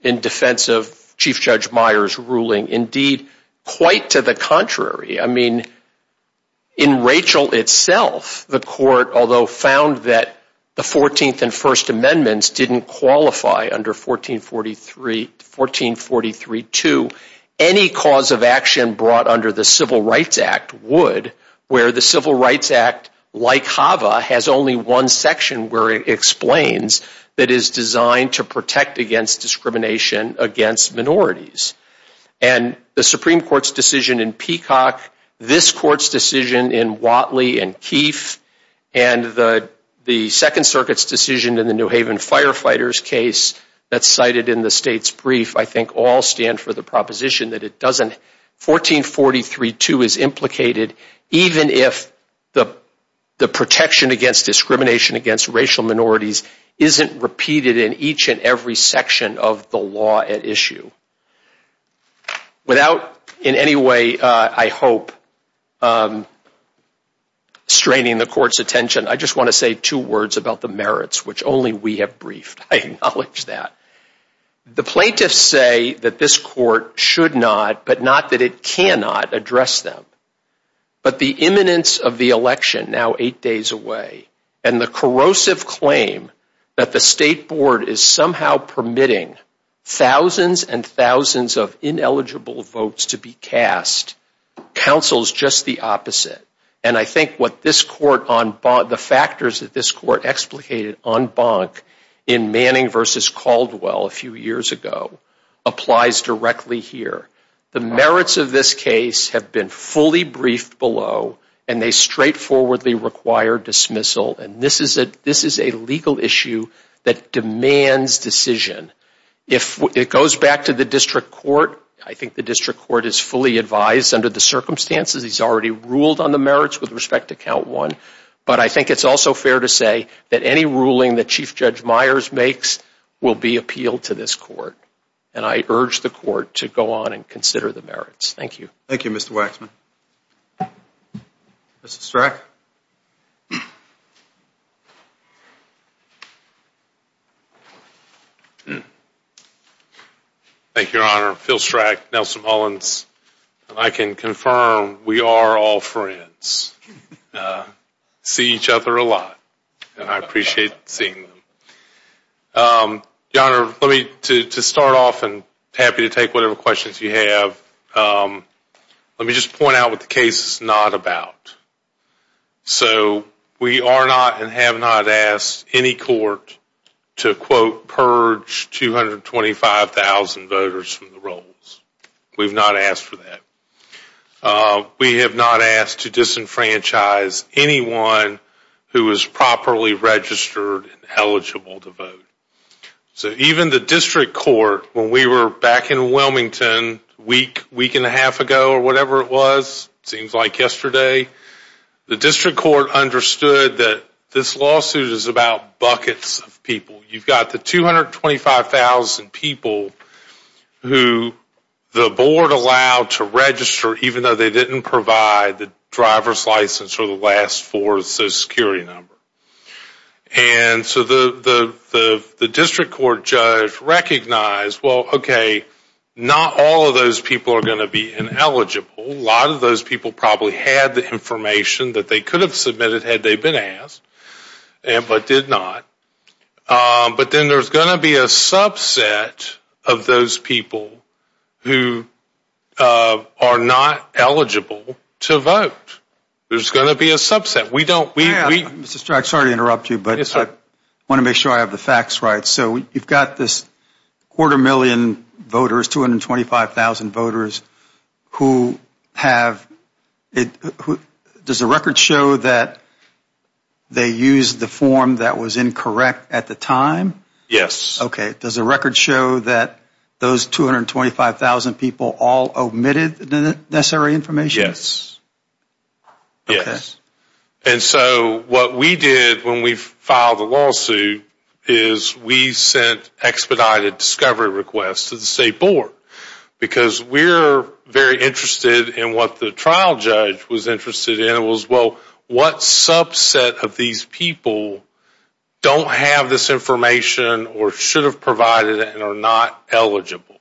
in defense of Chief Judge Meyer's ruling. Indeed, quite to the contrary. I mean, in Rachel itself, the court, although found that the 14th and First Amendments didn't qualify under 1443-2, any cause of action brought under the Civil Rights Act would, where the Civil Rights Act, like HAVA, has only one section where it explains that it is designed to protect against discrimination against minorities. And the Supreme Court's decision in Peacock, this court's decision in Watley and Keefe, and the Second Circuit's decision in the New Haven Firefighters case that's cited in the state's brief, I think all stand for the proposition that it doesn't, 1443-2 is implicated even if the protection against discrimination against racial minorities isn't repeated in each and every section of the law at issue. Without in any way, I hope, straining the court's attention, I just want to say two words about the merits, which only we have briefed. I acknowledge that. The plaintiffs say that this court should not, but not that it cannot, address them. But the imminence of the election, now eight days away, and the corrosive claim that the state board is somehow permitting thousands and thousands of ineligible votes to be cast, counsels just the opposite. And I think what this court, the factors that this court explicated en banc in Manning v. Caldwell a few years ago, applies directly here. The merits of this case have been fully briefed below, and they straightforwardly require dismissal. And this is a legal issue that demands decision. If it goes back to the district court, I think the district court is fully advised under the circumstances. He's already ruled on the merits with respect to count one. But I think it's also fair to say that any ruling that Chief Judge Myers makes will be appealed to this court. And I urge the court to go on and consider the merits. Thank you. Thank you, Mr. Waxman. Mr. Strack? Thank you, Your Honor. Phil Strack, Nelson Mullins. I can confirm, we are all friends. We see each other a lot, and I appreciate seeing you. Your Honor, let me, to start off, I'm happy to take whatever questions you have. Let me just point out what the case is not about. So we are not and have not asked any court to, quote, purge 225,000 voters from the rolls. We have not asked for that. We have not asked to disenfranchise anyone who is properly registered and eligible to vote. So even the district court, when we were back in Wilmington a week, week and a half ago, or whatever it was, seems like yesterday, the district court understood that this lawsuit is about buckets of people. You've got the 225,000 people who the board allowed to register, even though they didn't provide the driver's license or the last four social security numbers. And so the district court judge recognized, well, okay, not all of those people are going to be ineligible. A lot of those people probably had the information that they could have submitted had they been asked, but did not. But then there's going to be a subset of those people who are not eligible to vote. There's going to be a subset. We don't... Mr. Strachan, sorry to interrupt you, but I want to make sure I have the facts right. So you've got this quarter million voters, 225,000 voters, who have... does the record show that they used the form that was incorrect at the time? Yes. Okay. Does the record show that those 225,000 people all omitted the necessary information? Okay. Yes. And so what we did when we filed the lawsuit is we sent expedited discovery requests to the state board, because we're very interested in what the trial judge was interested in. The question was, well, what subset of these people don't have this information or should have provided it and are not eligible?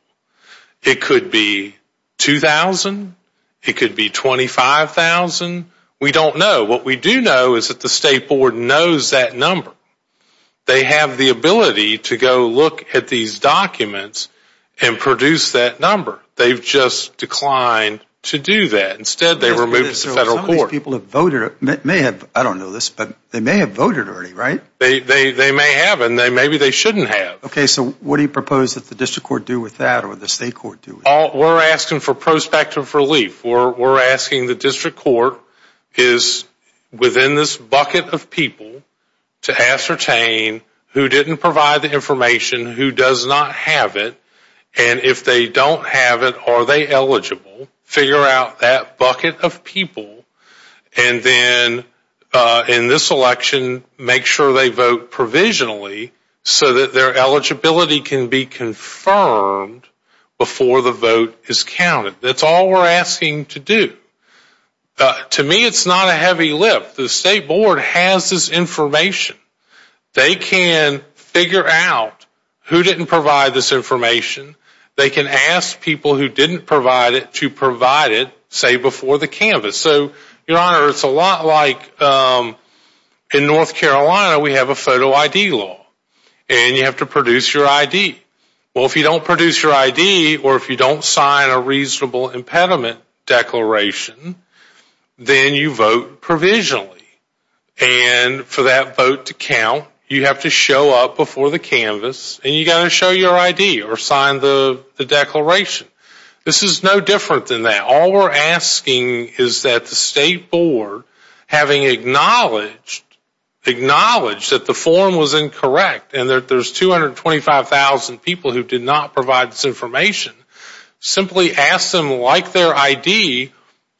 It could be 2,000. It could be 25,000. We don't know. What we do know is that the state board knows that number. They have the ability to go look at these documents and produce that number. They've just declined to do that. Instead, they were moved to the federal court. How many people have voted? I don't know this, but they may have voted already, right? They may have, and maybe they shouldn't have. Okay. So what do you propose that the district court do with that or the state court do with We're asking for prospective relief. We're asking the district court is within this bucket of people to ascertain who didn't provide the information, who does not have it, and if they don't have it, are they eligible, figure out that bucket of people, and then in this election, make sure they vote provisionally so that their eligibility can be confirmed before the vote is counted. That's all we're asking to do. To me, it's not a heavy lift. The state board has this information. They can figure out who didn't provide this information. They can ask people who didn't provide it to provide it, say, before the canvas. So, your honor, it's a lot like in North Carolina, we have a photo ID law, and you have to produce your ID. Well, if you don't produce your ID or if you don't sign a reasonable impediment declaration, then you vote provisionally, and for that vote to count, you have to show up before the canvas, and you've got to show your ID or sign the declaration. This is no different than that. All we're asking is that the state board, having acknowledged that the form was incorrect and that there's 225,000 people who did not provide this information, simply ask them, like their ID,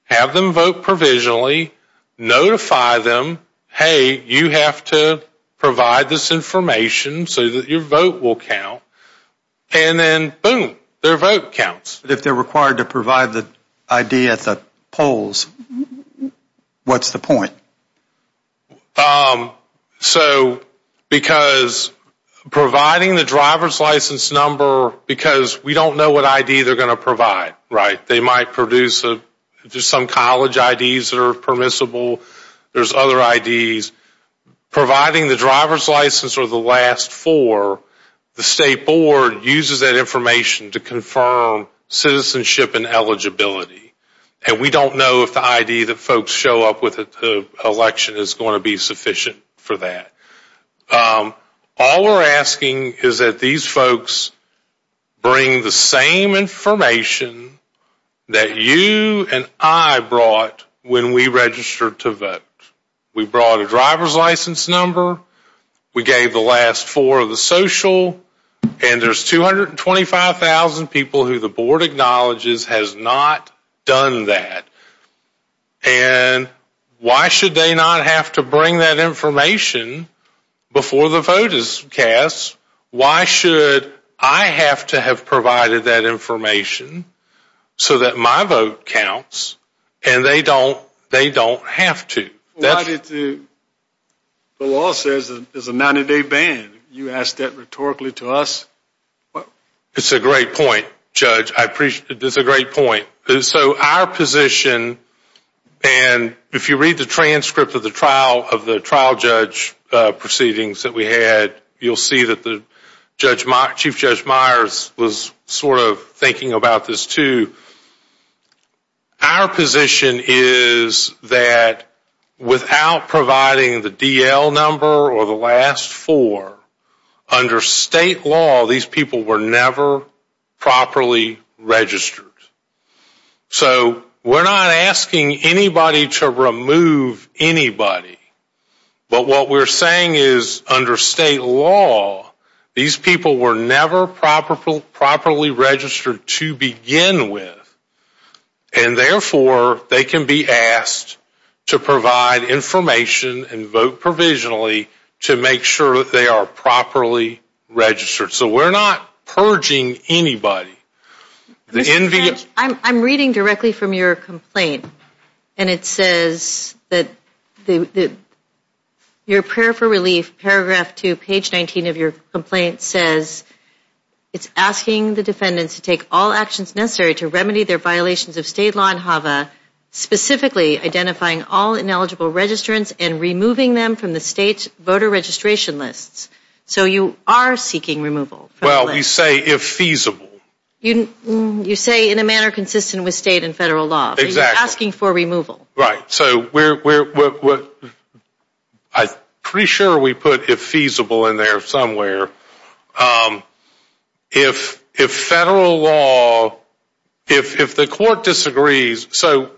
have them vote provisionally, notify them, hey, you have to provide this information so that your vote will count, and then, boom, their vote counts. If they're required to provide the ID at the polls, what's the point? So, because providing the driver's license number, because we don't know what ID they're having, college IDs are permissible, there's other IDs, providing the driver's license or the last four, the state board uses that information to confirm citizenship and eligibility, and we don't know if the ID that folks show up with at the election is going to be sufficient for that. All we're asking is that these folks bring the same information that you and I brought when we registered to vote. We brought a driver's license number, we gave the last four the social, and there's 225,000 people who the board acknowledges has not done that, and why should they not have to bring that information before the vote is cast? Why should I have to have provided that information so that my vote counts and they don't have to? Why did the law say there's a 90-day ban? You ask that rhetorically to us? It's a great point, Judge. I appreciate it. It's a great point. So, our position, and if you read the transcript of the trial judge proceedings that we had, you'll see that Chief Judge Myers was sort of thinking about this, too. Our position is that without providing the DL number or the last four, under state law, these people were never properly registered. So, we're not asking anybody to remove anybody, but what we're saying is under state law, these people were never properly registered to begin with, and therefore, they can be asked to provide information and vote provisionally to make sure that they are properly registered. So, we're not purging anybody. Judge, I'm reading directly from your complaint, and it says that your prayer for relief, paragraph 2, page 19 of your complaint says, it's asking the defendants to take all actions necessary to remedy their violations of state law in HAVA, specifically identifying all ineligible registrants and removing them from the state's voter registration list. So, you are seeking removal. Well, we say if feasible. You say in a manner consistent with state and federal law. Exactly. You're asking for removal. Right. So, I'm pretty sure we put if feasible in there somewhere. If federal law, if the court disagrees, so,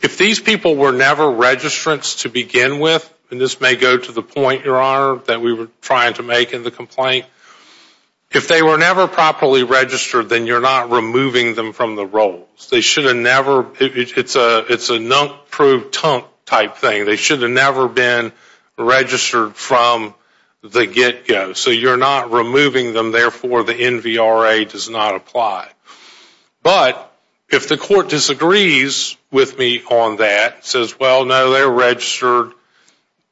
if these people were never registrants to begin with, and this may go to the point, Your Honor, that we were trying to make in the complaint, if they were never properly registered, then you're not removing them from the rolls. They should have never, it's a nunk-proof-tunk type thing. They should have never been registered from the get-go. So, you're not removing them. Therefore, the NVRA does not apply. But, if the court disagrees with me on that, says, well, no, they're registered,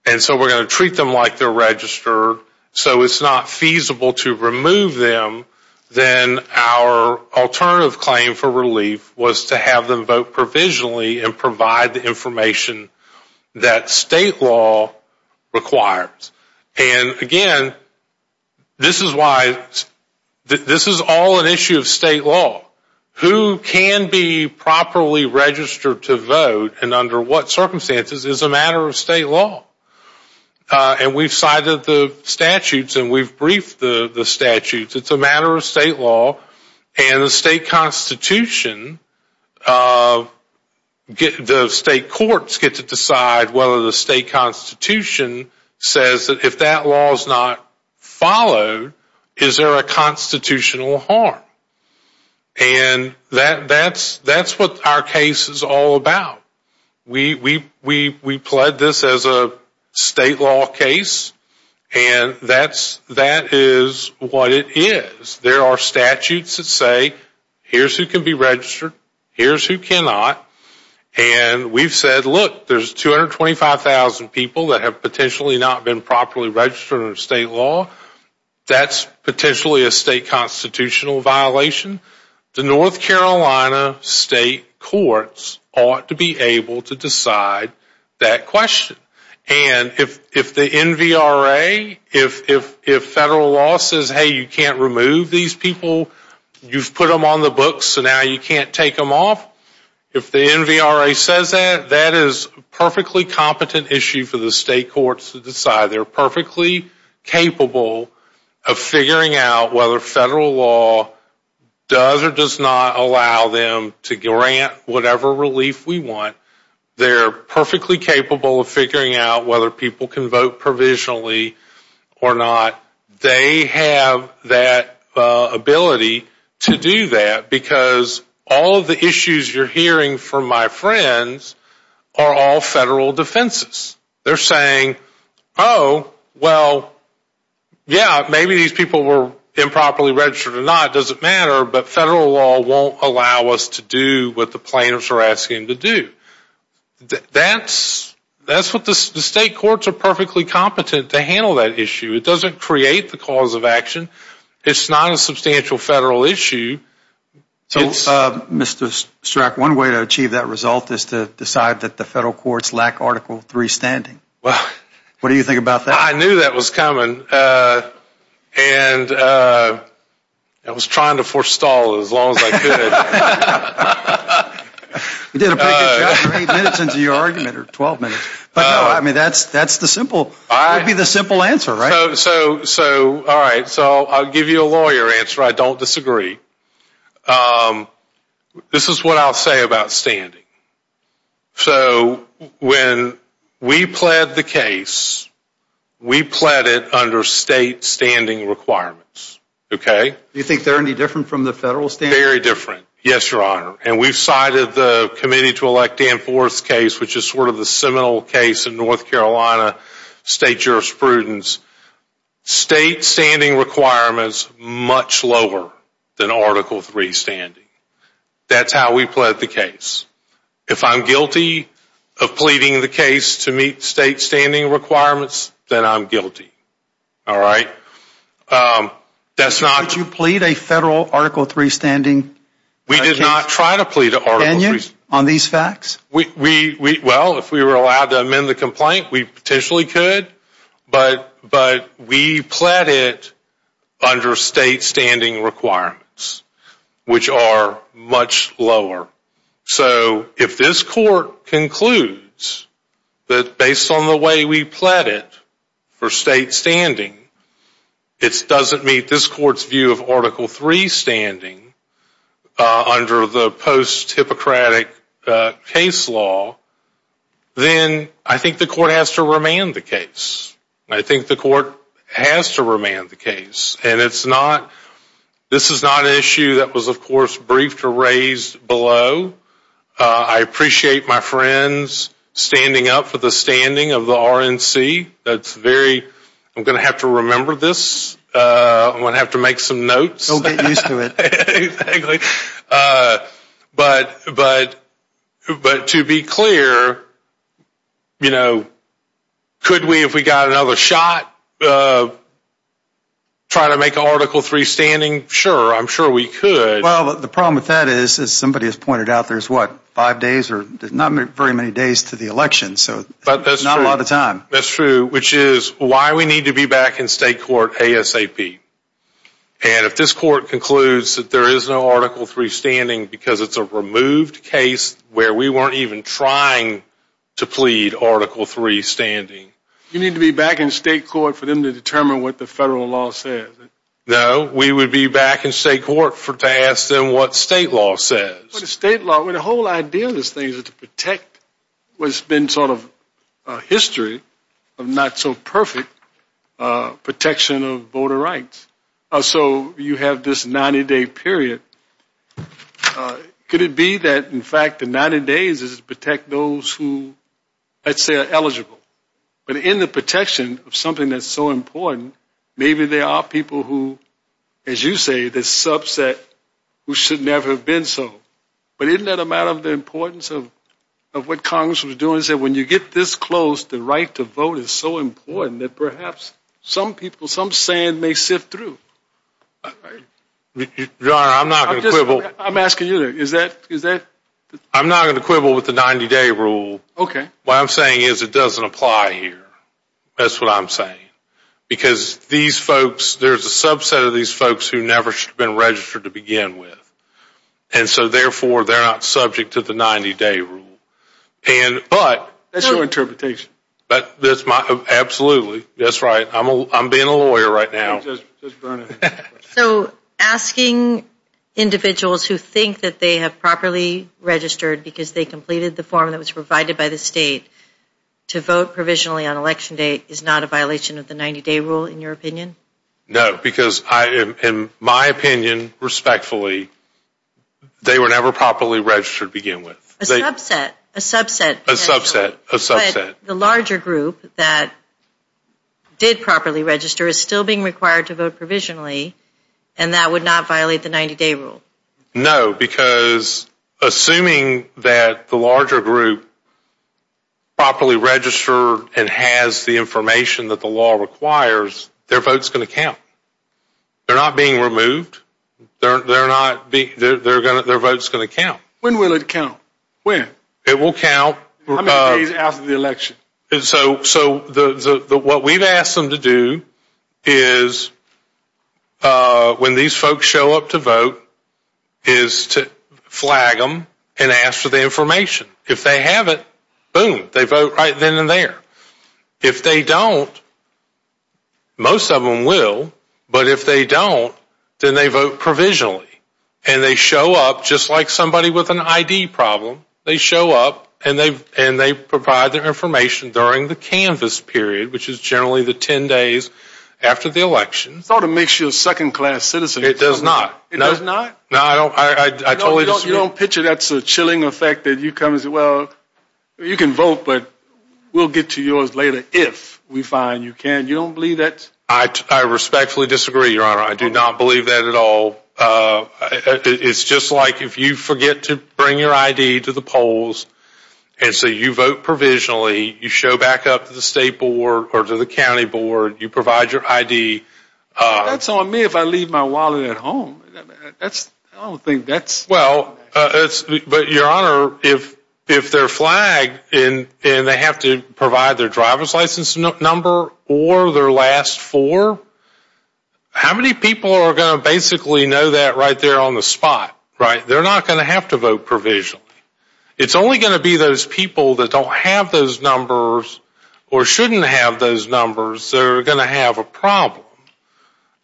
and so we're going to treat them like they're registered, so it's not feasible to remove them, then our alternative claim for relief was to have them vote provisionally and provide the information that state law requires. And, again, this is why, this is all an issue of state law. Who can be properly registered to vote, and under what circumstances, is a matter of state law. And we've cited the statutes, and we've briefed the statutes. It's a matter of state law, and the state constitution, the state courts get to decide whether the state constitution says that if that law is not followed, is there a constitutional harm. And that's what our case is all about. We pled this as a state law case, and that is what it is. There are statutes that say, here's who can be registered, here's who cannot, and we've said, look, there's 225,000 people that have potentially not been properly registered under state law. That's potentially a state constitutional violation. The North Carolina state courts ought to be able to decide that question. And if the NVRA, if federal law says, hey, you can't remove these people, you've put them on the books, so now you can't take them off, if the NVRA says that, that is a perfectly competent issue for the state courts to decide. They're perfectly capable of figuring out whether federal law does or does not allow them to grant whatever relief we want. They're perfectly capable of figuring out whether people can vote provisionally or not. They have that ability to do that because all of the issues you're hearing from my friends are all federal defenses. They're saying, oh, well, yeah, maybe these people were improperly registered or not, doesn't matter, but federal law won't allow us to do what the plaintiffs are asking to do. That's what the state courts are perfectly competent to handle that issue. It doesn't create the cause of action. It's not a substantial federal issue. So, Mr. Strzok, one way to achieve that result is to decide that the federal courts lack Article III standing. What do you think about that? I knew that was coming, and I was trying to forestall it as long as I could. You did a pretty good job. How many minutes into your argument are 12 minutes? I mean, that's the simple answer, right? All right, so I'll give you a lawyer answer. I don't disagree. This is what I'll say about standing. So when we pled the case, we pled it under state standing requirements, okay? Do you think they're any different from the federal standing? Very different, yes, Your Honor, and we've cited the Committee to Elect Dan Forth case, which is sort of the seminal case in North Carolina state jurisprudence. State standing requirements much lower than Article III standing. That's how we pled the case. If I'm guilty of pleading the case to meet state standing requirements, then I'm guilty, all right? Would you plead a federal Article III standing? We did not try to plead an Article III standing. Can you on these facts? Well, if we were allowed to amend the complaint, we potentially could, but we pled it under state standing requirements, which are much lower. So if this court concludes that based on the way we pled it for state standing, it doesn't meet this court's view of Article III standing under the post-Hippocratic case law, then I think the court has to remand the case. I think the court has to remand the case, and this is not an issue that was, of course, briefed or raised below. I appreciate my friends standing up for the standing of the RNC. I'm going to have to remember this. I'm going to have to make some notes. Don't get used to it. But to be clear, could we, if we got another shot, try to make an Article III standing? Sure, I'm sure we could. Well, the problem with that is, as somebody has pointed out, there's, what, five days or not very many days to the election, so not a lot of time. That's true, which is why we need to be back in state court ASAP. And if this court concludes that there is no Article III standing because it's a removed case where we weren't even trying to plead Article III standing. You need to be back in state court for them to determine what the federal law says. No, we would be back in state court to ask them what state law says. Well, the state law, the whole idea of this thing is to protect what's been sort of a history of not-so-perfect protection of voter rights. So you have this 90-day period. Could it be that, in fact, the 90 days is to protect those who, let's say, are eligible? But in the protection of something that's so important, maybe there are people who, as you say, the subset who should never have been so. But isn't that a matter of the importance of what Congress was doing, which is that when you get this close, the right to vote is so important that perhaps some people, some sand may sift through. Your Honor, I'm not going to quibble. I'm asking you, is that? I'm not going to quibble with the 90-day rule. What I'm saying is it doesn't apply here. That's what I'm saying. Because these folks, there's a subset of these folks who never should have been registered to begin with. And so, therefore, they're not subject to the 90-day rule. That's your interpretation. Absolutely. That's right. I'm being a lawyer right now. So asking individuals who think that they have properly registered because they completed the form that was provided by the state to vote provisionally on election day is not a violation of the 90-day rule, in your opinion? No, because in my opinion, respectfully, they were never properly registered to begin with. A subset. A subset. A subset. But the larger group that did properly register is still being required to vote provisionally, and that would not violate the 90-day rule. No, because assuming that the larger group properly registered and has the information that the law requires, their vote's going to count. They're not being removed. Their vote's going to count. When will it count? It will count. How many days after the election? So what we've asked them to do is, when these folks show up to vote, is to flag them and ask for the information. If they have it, boom, they vote right then and there. If they don't, most of them will, but if they don't, then they vote provisionally, and they show up just like somebody with an ID problem. They show up, and they provide their information during the canvas period, which is generally the ten days after the election. It sort of makes you a second-class citizen. It does not. It does not? No, I totally disagree. You don't picture that as a chilling effect that you come and say, well, you can vote, but we'll get to yours later if we find you can. You don't believe that? I respectfully disagree, Your Honor. I do not believe that at all. It's just like if you forget to bring your ID to the polls, and so you vote provisionally, you show back up to the state board or to the county board, you provide your ID. That's on me if I leave my wallet at home. I don't think that's – Well, but, Your Honor, if they're flagged, and they have to provide their driver's license number or their last four, how many people are going to basically know that right there on the spot, right? They're not going to have to vote provisionally. It's only going to be those people that don't have those numbers or shouldn't have those numbers that are going to have a problem.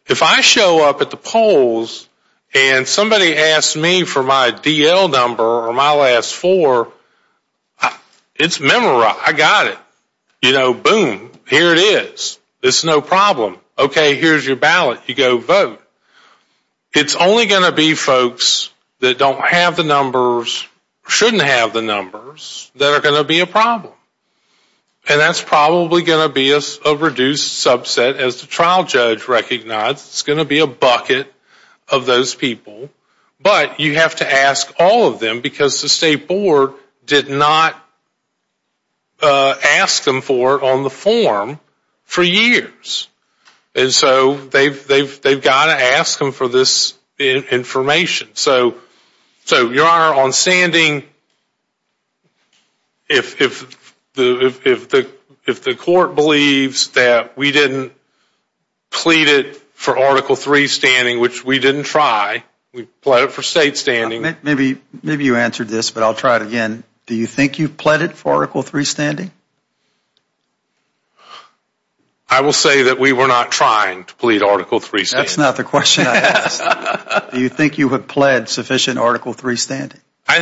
If I show up at the polls and somebody asks me for my DL number or my last four, it's memorized. I got it. You know, boom, here it is. It's no problem. Okay, here's your ballot. You go vote. It's only going to be folks that don't have the numbers or shouldn't have the numbers that are going to be a problem, and that's probably going to be a reduced subset, as the trial judge recognized. It's going to be a bucket of those people, but you have to ask all of them because the state board did not ask them for it in the form for years. And so they've got to ask them for this information. So, Your Honor, on standing, if the court believes that we didn't plead it for Article III standing, which we didn't try, we plead it for state standing. Maybe you answered this, but I'll try it again. Do you think you pleaded for Article III standing? I will say that we were not trying to plead Article III standing. That's not the question I asked. Do you think you have pled sufficient Article III standing? I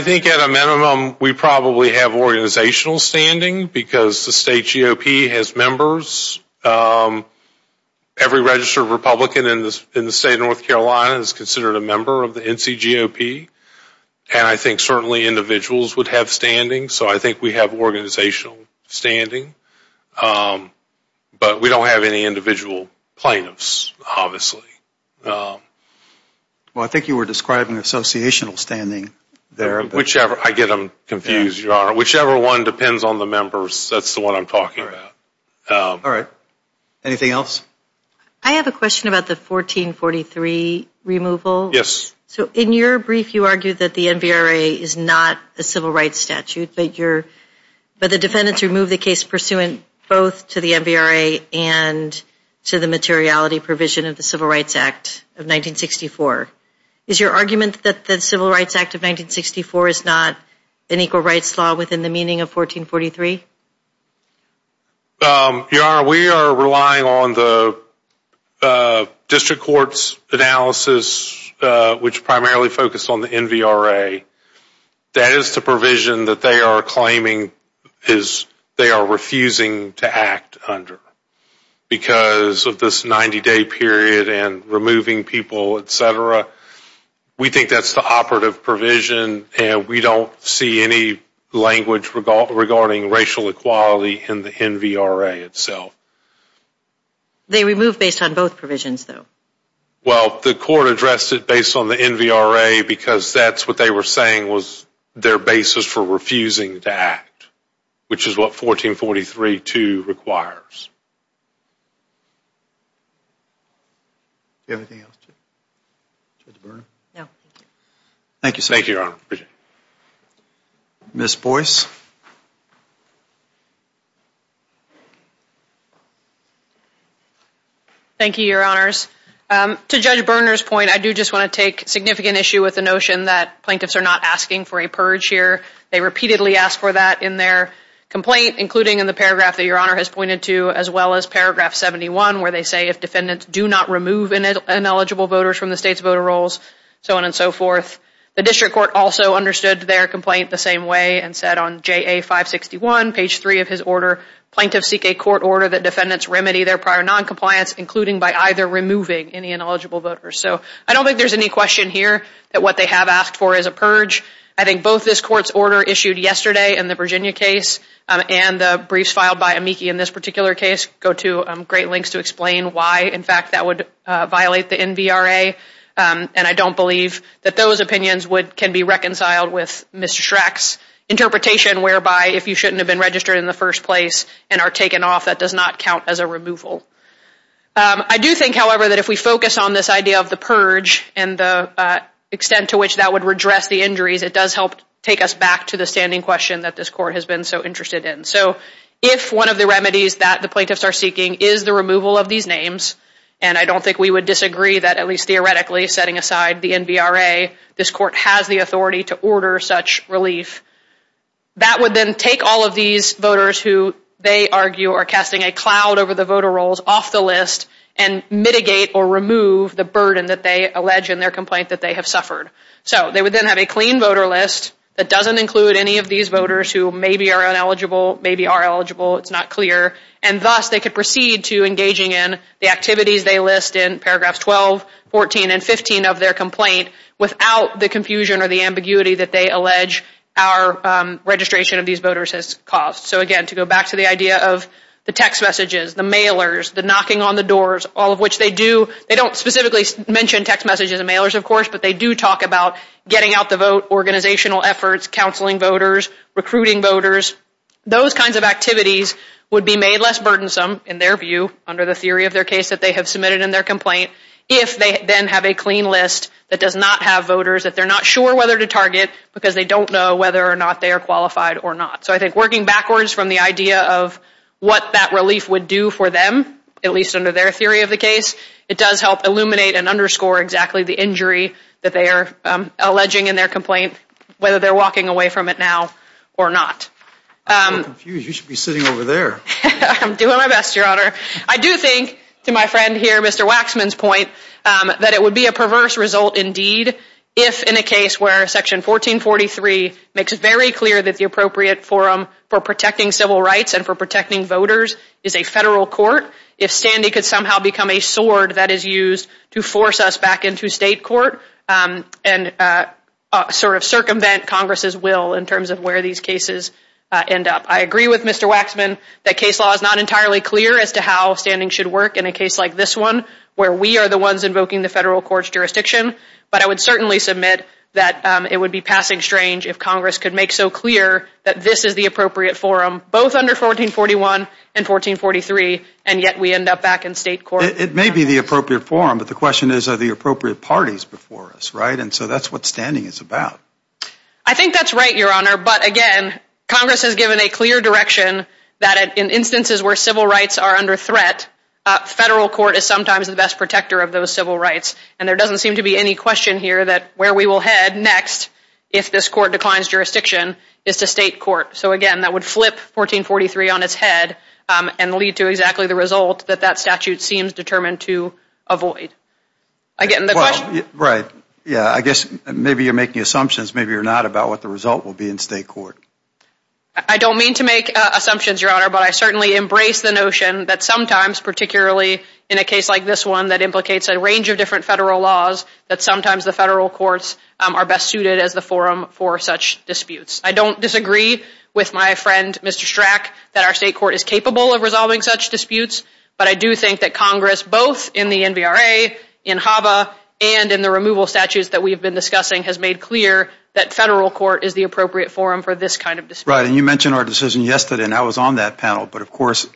think at a minimum we probably have organizational standing because the state GOP has members. Every registered Republican in the state of North Carolina is considered a member of the NCGOP, and I think certainly individuals would have standing. So I think we have organizational standing, but we don't have any individual plaintiffs, obviously. Well, I think you were describing associational standing there. I get them confused, Your Honor. Whichever one depends on the members, that's the one I'm talking about. All right. Anything else? I have a question about the 1443 removal. Yes. So in your brief you argued that the NBRA is not a civil rights statute, but the defendants removed the case pursuant both to the NBRA and to the materiality provision of the Civil Rights Act of 1964. Is your argument that the Civil Rights Act of 1964 is not an equal rights law within the meaning of 1443? Your Honor, we are relying on the district court's analysis, which primarily focused on the NBRA. That is the provision that they are claiming they are refusing to act under because of this 90-day period and removing people, et cetera. We think that's the operative provision, and we don't see any language regarding racial equality in the NBRA itself. They removed based on both provisions, though. Well, the court addressed it based on the NBRA because that's what they were saying was their basis for refusing to act, which is what 1443-2 requires. Anything else, Judge Byrne? No. Thank you, Your Honor. Ms. Boyce? Thank you, Your Honors. To Judge Byrne's point, I do just want to take significant issue with the notion that plaintiffs are not asking for a purge here. They repeatedly ask for that in their complaint, including in the paragraph that Your Honor has pointed to, as well as paragraph 71, where they say, if defendants do not remove ineligible voters from the state's voter rolls, so on and so forth. The district court also understood their complaint the same way and said on JA-561, page 3 of his order, plaintiffs seek a court order that defendants remedy their prior noncompliance, including by either removing any ineligible voters. So I don't think there's any question here that what they have asked for is a purge. I think both this court's order issued yesterday in the Virginia case and the briefs filed by Amiki in this particular case go to great lengths to explain why, in fact, that would violate the NVRA. And I don't believe that those opinions can be reconciled with Mr. Schreck's interpretation, whereby if you shouldn't have been registered in the first place and are taken off, that does not count as a removal. I do think, however, that if we focus on this idea of the purge and the extent to which that would redress the injury, that does help take us back to the standing question that this court has been so interested in. So if one of the remedies that the plaintiffs are seeking is the removal of these names, and I don't think we would disagree that, at least theoretically, setting aside the NVRA, this court has the authority to order such relief, that would then take all of these voters who they argue are casting a cloud over the voter rolls off the list and mitigate or remove the burden that they allege in their complaint that they have suffered. So they would then have a clean voter list that doesn't include any of these voters who maybe are ineligible, maybe are eligible, it's not clear, and thus they could proceed to engaging in the activities they list in paragraphs 12, 14, and 15 of their complaint without the confusion or the ambiguity that they allege our registration of these voters has caused. So again, to go back to the idea of the text messages, the mailers, the knocking on the doors, all of which they do. They don't specifically mention text messages in the mailers, of course, but they do talk about getting out the vote, organizational efforts, counseling voters, recruiting voters. Those kinds of activities would be made less burdensome, in their view, under the theory of their case that they have submitted in their complaint, if they then have a clean list that does not have voters that they're not sure whether to target because they don't know whether or not they are qualified or not. So I think working backwards from the idea of what that relief would do for them, at least under their theory of the case, it does help illuminate and underscore exactly the injury that they are alleging in their complaint, whether they're walking away from it now or not. I'm confused. You should be sitting over there. I'm doing my best, Your Honor. I do think, to my friend here, Mr. Waxman's point, that it would be a perverse result indeed if in a case where Section 1443 makes it very clear that the appropriate forum for protecting civil rights and for protecting voters is a federal court, if Sandy could somehow become a sword that is used to force us back into state court and sort of circumvent Congress's will in terms of where these cases end up. I agree with Mr. Waxman that case law is not entirely clear as to how standing should work in a case like this one where we are the ones invoking the federal court's jurisdiction, but I would certainly submit that it would be passing strange if Congress could make so clear that this is the appropriate forum, both under 1441 and 1443, and yet we end up back in state court. It may be the appropriate forum, but the question is are the appropriate parties before us, right? And so that's what standing is about. I think that's right, Your Honor, but again, Congress has given a clear direction that in instances where civil rights are under threat, federal court is sometimes the best protector of those civil rights, and there doesn't seem to be any question here that where we will head next, if this court declines jurisdiction, is to state court. So again, that would flip 1443 on its head and lead to exactly the result that that statute seems determined to avoid. Again, the question... Right, yeah, I guess maybe you're making assumptions, maybe you're not, about what the result will be in state court. I don't mean to make assumptions, Your Honor, but I certainly embrace the notion that sometimes, particularly in a case like this one that implicates a range of different federal laws, that sometimes the federal courts are best suited as the forum for such disputes. I don't disagree with my friend, Mr. Strack, that our state court is capable of resolving such disputes, but I do think that Congress, both in the NVRA, in HABA, and in the removal statutes that we've been discussing, has made clear that federal court is the appropriate forum for this kind of dispute. Right, and you mentioned our decision yesterday, and I was on that panel, but of course,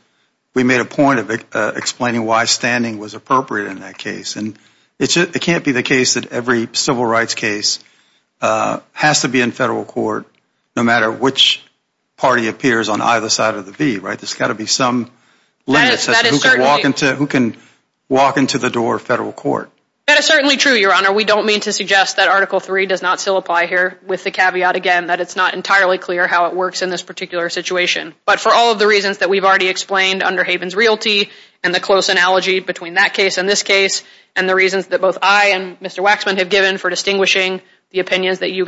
we made a point of explaining why standing was appropriate in that case. And it can't be the case that every civil rights case has to be in federal court, no matter which party appears on either side of the V, right? There's got to be some limit such as who can walk into the door of federal court. That is certainly true, Your Honor. We don't mean to suggest that Article III does not still apply here, with the caveat, again, that it's not entirely clear how it works in this particular situation. But for all of the reasons that we've already explained under Haven's Realty, and the close analogy between that case and this case, and the reasons that both I and Mr. Waxman have given for distinguishing the opinions that Your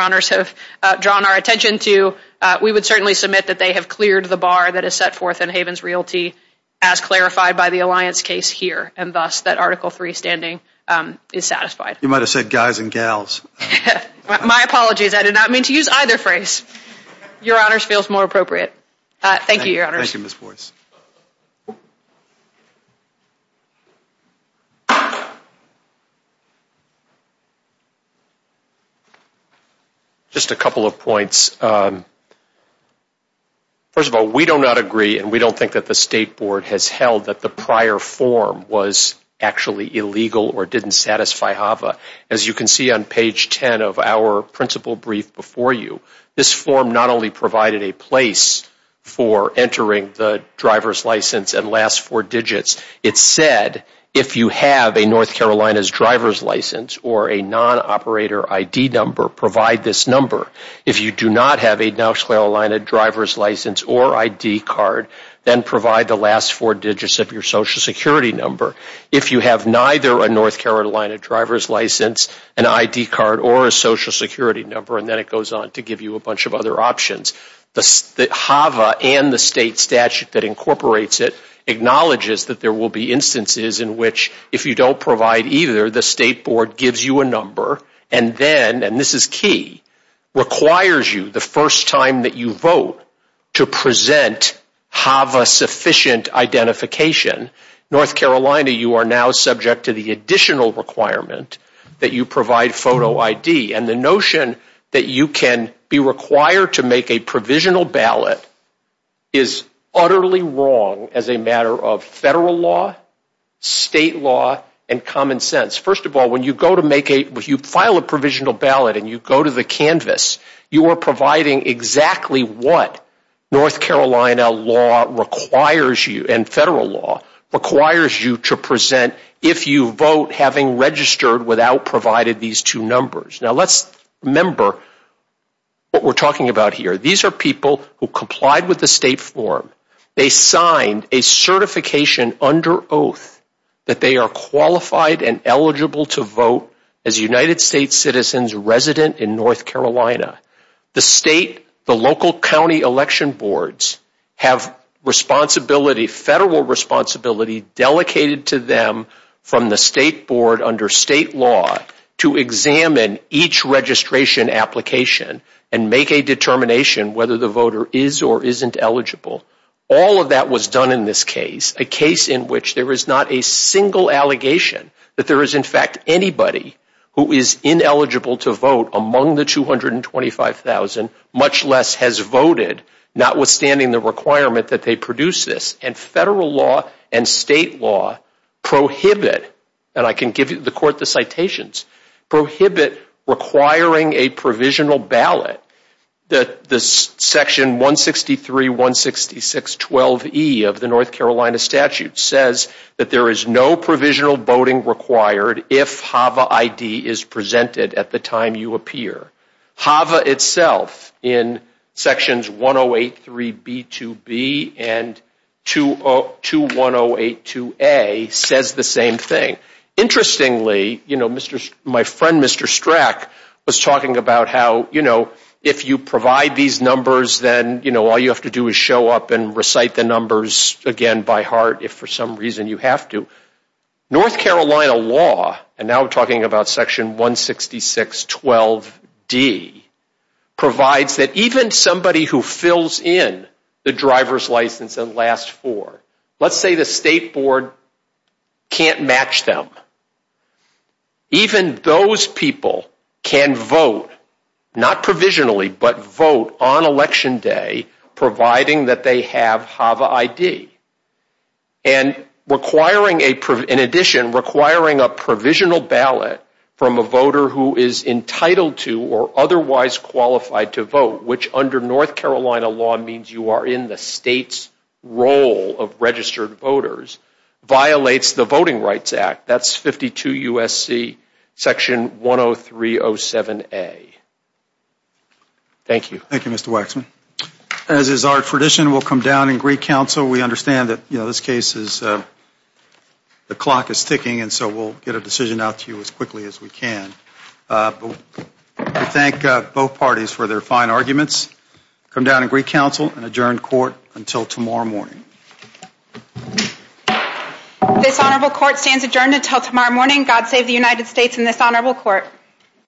Honors have drawn our attention to, we would certainly submit that they have cleared the bar that is set forth in Haven's Realty, as clarified by the Alliance case here, and thus that Article III standing is satisfied. You might have said guys and gals. My apologies. I did not mean to use either phrase. Your Honors feels more appropriate. Thank you, Your Honors. Thank you, Ms. Boyce. Just a couple of points. First of all, we do not agree, and we don't think that the State Board has held that the prior form was actually illegal or didn't satisfy HAVA. As you can see on page 10 of our principal brief before you, this form not only provided a place for entering the driver's license and last four digits, it said if you have a North Carolina's driver's license or a non-operator ID number, provide this number. If you do not have a North Carolina driver's license or ID card, then provide the last four digits of your Social Security number. If you have neither a North Carolina driver's license, an ID card, or a Social Security number, and then it goes on to give you a bunch of other options. HAVA and the State statute that incorporates it acknowledges that there will be instances in which if you don't provide either, the State Board gives you a number and then, and this is key, requires you the first time that you vote to present HAVA-sufficient identification. North Carolina, you are now subject to the additional requirement that you provide photo ID, and the notion that you can be required to make a provisional ballot is utterly wrong as a matter of federal law, state law, and common sense. First of all, when you go to make a, when you file a provisional ballot and you go to the canvas, you are providing exactly what North Carolina law requires you and federal law requires you to present if you vote having registered without providing these two numbers. Now, let's remember what we're talking about here. These are people who complied with the State form. They signed a certification under oath that they are qualified and eligible to vote as United States citizens resident in North Carolina. The state, the local county election boards have responsibility, federal responsibility, delegated to them from the State Board under state law to examine each registration application and make a determination whether the voter is or isn't eligible. All of that was done in this case, a case in which there is not a single allegation that there is in fact anybody who is ineligible to vote among the 225,000, much less has voted, notwithstanding the requirement that they produce this. And federal law and state law prohibit, and I can give the court the citations, prohibit requiring a provisional ballot. The section 163.166.12e of the North Carolina statute says that there is no provisional voting required if HAVA ID is presented at the time you appear. HAVA itself in sections 1083B2B and 21082A says the same thing. Interestingly, my friend Mr. Strack was talking about how if you provide these numbers then all you have to do is show up and recite the numbers again by heart if for some reason you have to. North Carolina law, and now we're talking about section 166.12d, provides that even somebody who fills in the driver's license and last four, let's say the state board can't match them, even those people can vote, not provisionally, but vote on election day providing that they have HAVA ID. And in addition, requiring a provisional ballot from a voter who is entitled to or otherwise qualified to vote, which under North Carolina law means you are in the state's role of registered voters, violates the Voting Rights Act. That's 52 U.S.C. section 103.07a. Thank you. Thank you, Mr. Waxman. As is our tradition, we'll come down and recount so we understand that this case is, the clock is ticking and so we'll get a decision out to you as quickly as we can. I thank both parties for their fine arguments. Come down and greet counsel and adjourn court until tomorrow morning. This honorable court stands adjourned until tomorrow morning. God save the United States and this honorable court.